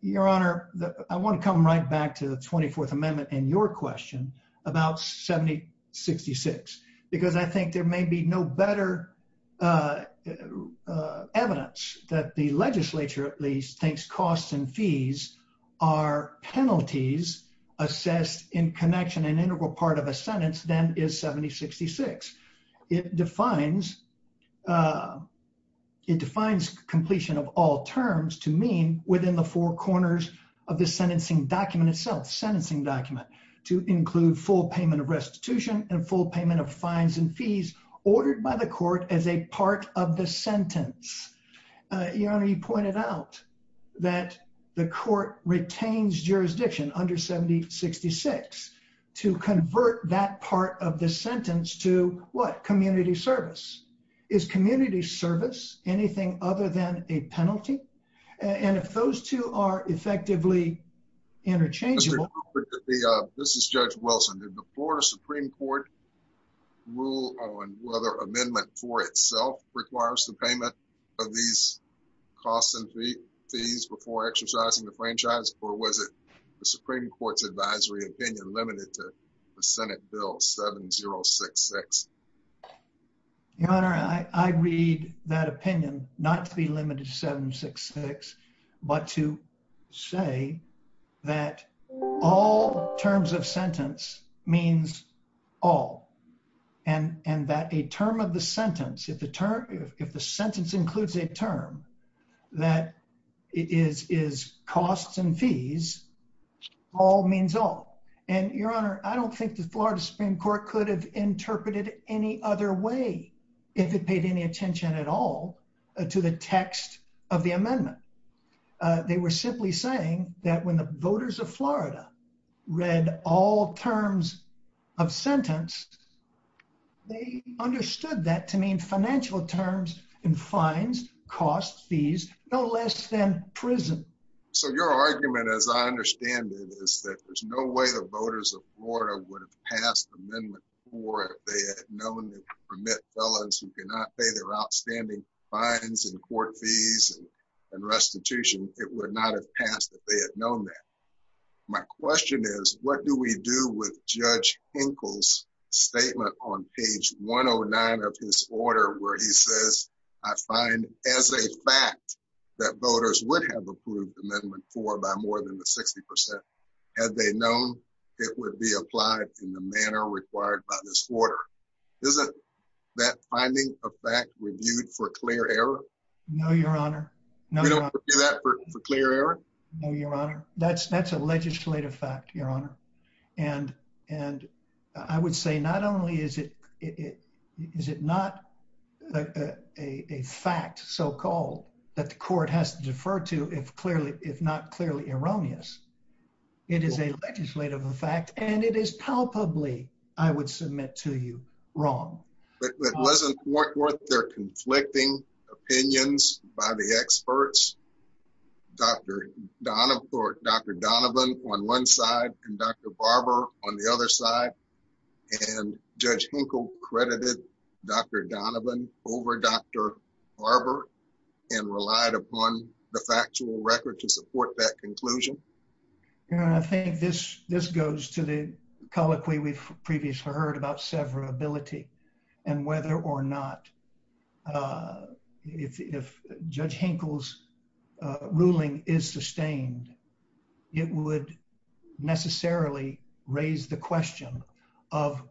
Your Honor, I want to come right back to the 24th Amendment in your question about 7066, because I think there may be no better evidence that the legislature, at least, thinks costs and fees are penalties assessed in connection and integral part of a sentence than is 7066. It defines completion of all terms to mean within the four corners of the sentencing document itself, sentencing document, to include full payment of fines and fees ordered by the court as a part of the sentence. Your Honor, you pointed out that the court retains jurisdiction under 7066 to convert that part of the sentence to what? Community service. Is community service anything other than a penalty? And if those two are rule on whether amendment for itself requires the payment of these costs and fees before exercising the franchise, or was it the Supreme Court's advisory opinion limited to the Senate Bill 7066? Your Honor, I read that opinion not to be limited to 766, but to say that all terms of sentence means all, and that a term of the sentence, if the term, if the sentence includes a term, that is costs and fees, all means all. And, Your Honor, I don't think the Florida Supreme Court could have interpreted it any other way if it paid any attention at all to the text of the sentence. They understood that to mean financial terms and fines, costs, fees, no less than prison. So your argument, as I understand it, is that there's no way the voters of Florida would have passed amendment four if they had known they could permit fellows who cannot pay their outstanding fines and court fees and restitution. It would not have passed if they had known that. My question is, what do we do with Judge Hinkle's statement on page 109 of his order where he says, I find as a fact that voters would have approved amendment four by more than the 60 percent had they known it would be applied in the manner required by this order. Isn't that finding a fact reviewed for clear error? No, Your Honor. No, Your Honor. That's a legislative fact, Your Honor. And I would say not only is it not a fact so-called that the court has to defer to if not clearly erroneous, it is a legislative fact and it is palpably, I would submit to you, wrong. But wasn't there conflicting opinions by the experts? Dr. Donovan on one side and Dr. Barber on the other side? And Judge Hinkle credited Dr. Donovan over Dr. Barber and relied upon the factual record to support that conclusion? Your Honor, I think this goes to the colloquy we've previously heard about severability and whether or not, if Judge Hinkle's ruling is sustained, it would necessarily raise the question of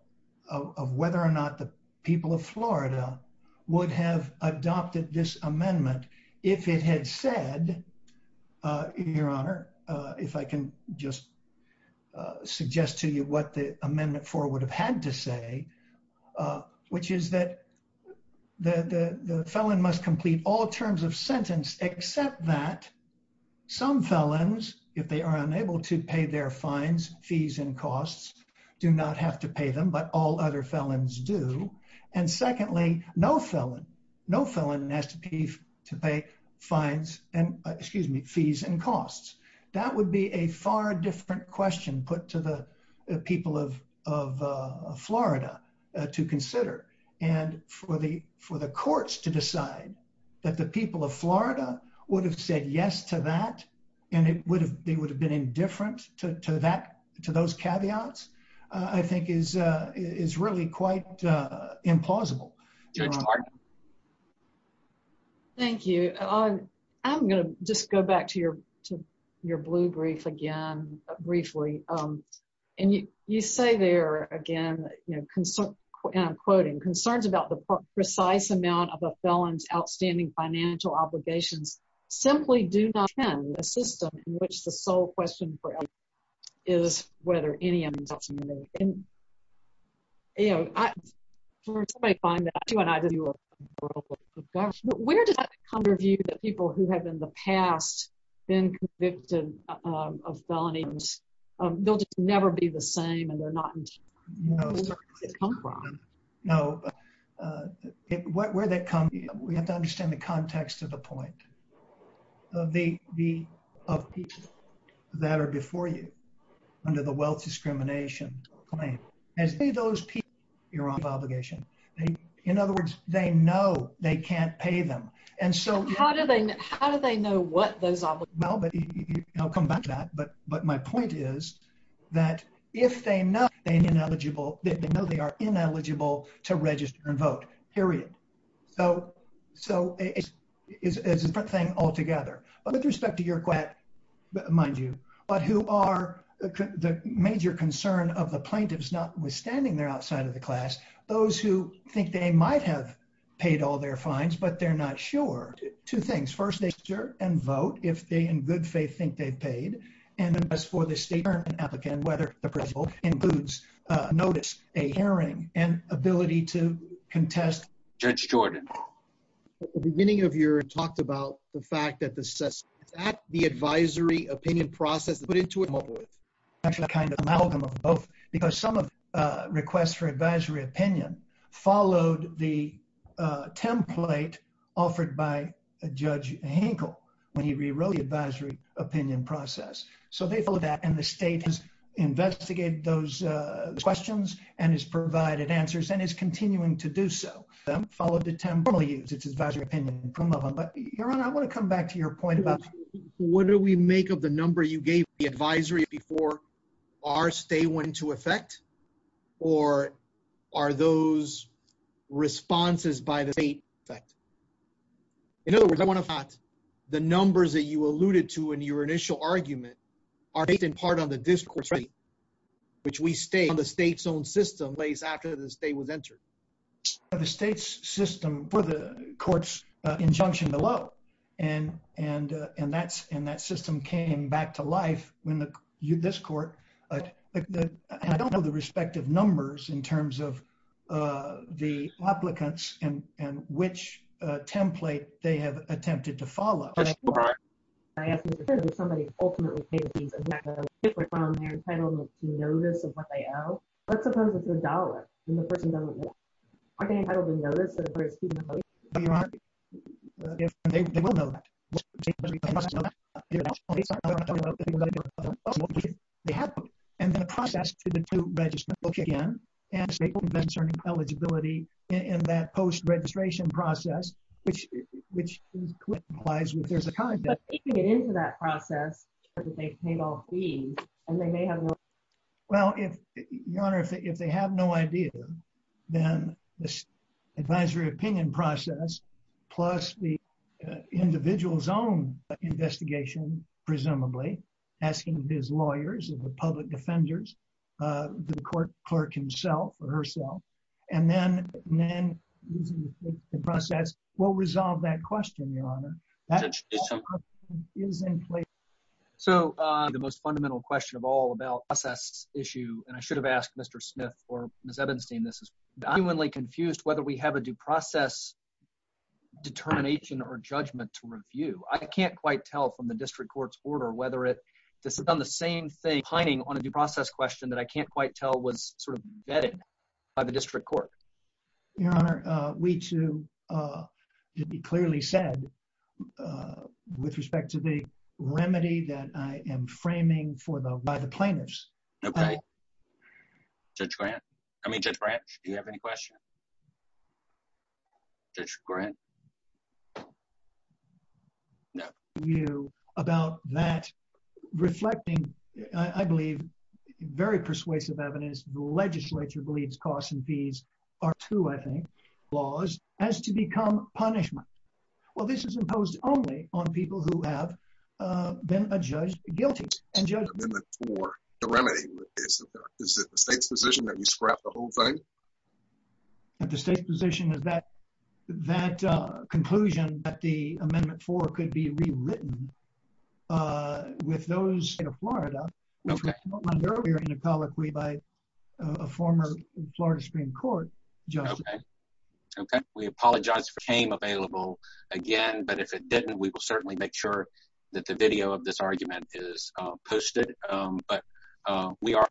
whether or not the people of Florida would have adopted this amendment if it had said, Your Honor, if I can just suggest to you what the amendment four would have had to say, which is that the felon must complete all terms of sentence except that some felons, if they are unable to pay their fines, fees, and costs, do not have to pay them, but all other felons do. And secondly, no felon has to pay fees and costs. That would be a far different question put to the people of Florida to consider. And for the courts to decide that the people of Florida would have said yes to that and they would have been indifferent to those caveats, I think is really quite implausible, Your Honor. Thank you. I'm going to just go back to your blue brief again, briefly. And you say there, again, and I'm quoting, concerns about the precise amount of a felon's outstanding financial obligations simply do not end in a system in which the sole question for us is whether any amendment is made. And, you know, where does that come to view the people who have in the past been convicted of felonies? They'll just never be the same and they're not insured. Where does that come from? No. Where that comes, we have to understand the context of the point. The people that are before you under the wealth discrimination claim, as many of those people, you're on obligation. In other words, they know they can't pay them. And so how do they know what those are? No, but I'll come back to that. But my point is that if they know they are ineligible to register and vote, period. So it's a different thing altogether. With respect to your class, mind you, but who are the major concern of the plaintiffs, notwithstanding they're outside of the class, those who think they might have paid all their fines, but they're not sure. Two things. First, they register and vote if they in good faith think they've paid. And then as for the state, whether in boots, notice a hearing and ability to assess. That's the advisory opinion process. Because some requests for advisory opinion followed the template offered by Judge Hinkle when he rewrote the advisory opinion process. So they filled that and the state has investigated those questions and has provided answers and is continuing to do so. I want to come back to your point about what do we make of the number you gave the advisory before our state went into effect? Or are those responses by the state? In other words, the numbers that you alluded to in your initial argument are based in part on the discourse, which we stay on the state's own system based after the state was entered. By the state's system for the court's injunction below. And that system came back to life when this court, I don't know the respective numbers in terms of the applicants and which template they have attempted to follow. I have to say that somebody ultimately paid me, on their entitlement to notice of what they owe. Let's suppose it's a dollar. Are they entitled to notice? And the process to register again, and say eligibility in that post registration process, which implies that there's a common debt. Into that process. Well, if they have no idea, then this advisory opinion process, plus the individual's own investigation, presumably asking his lawyers and the public defenders, the court clerk himself or herself, and then the process will resolve that question. In the same place. So, the most fundamental question of all about the process issue, and I should have asked Mr. Smith or Ms. Ebenstein, this is genuinely confused whether we have a due process determination or judgment to review. I can't quite tell from the district court's order whether this is on the same thing, pining on a due process question that I can't quite tell was sort of vetted by the district court. Your Honor, we too, to be clearly said, uh, with respect to the remedy that I am framing for the, by the planners. Okay. Judge Grant? I mean, Judge Grant, do you have any questions? Judge Grant? No. You, about that reflecting, I believe, very persuasive evidence, the legislature believes these are two, I think, laws, as to become punishment. Well, this is imposed only on people who have been judged guilty. Is it the state's position that we scrap the whole thing? The state's position is that that conclusion that the amendment for could be rewritten uh, with those in Florida, which was outlined earlier in an apology by a former Florida Supreme Court judge. Okay. Okay. We apologize for the time available again, but if it didn't, we will certainly make sure that the video of this argument is posted. But, uh, we are.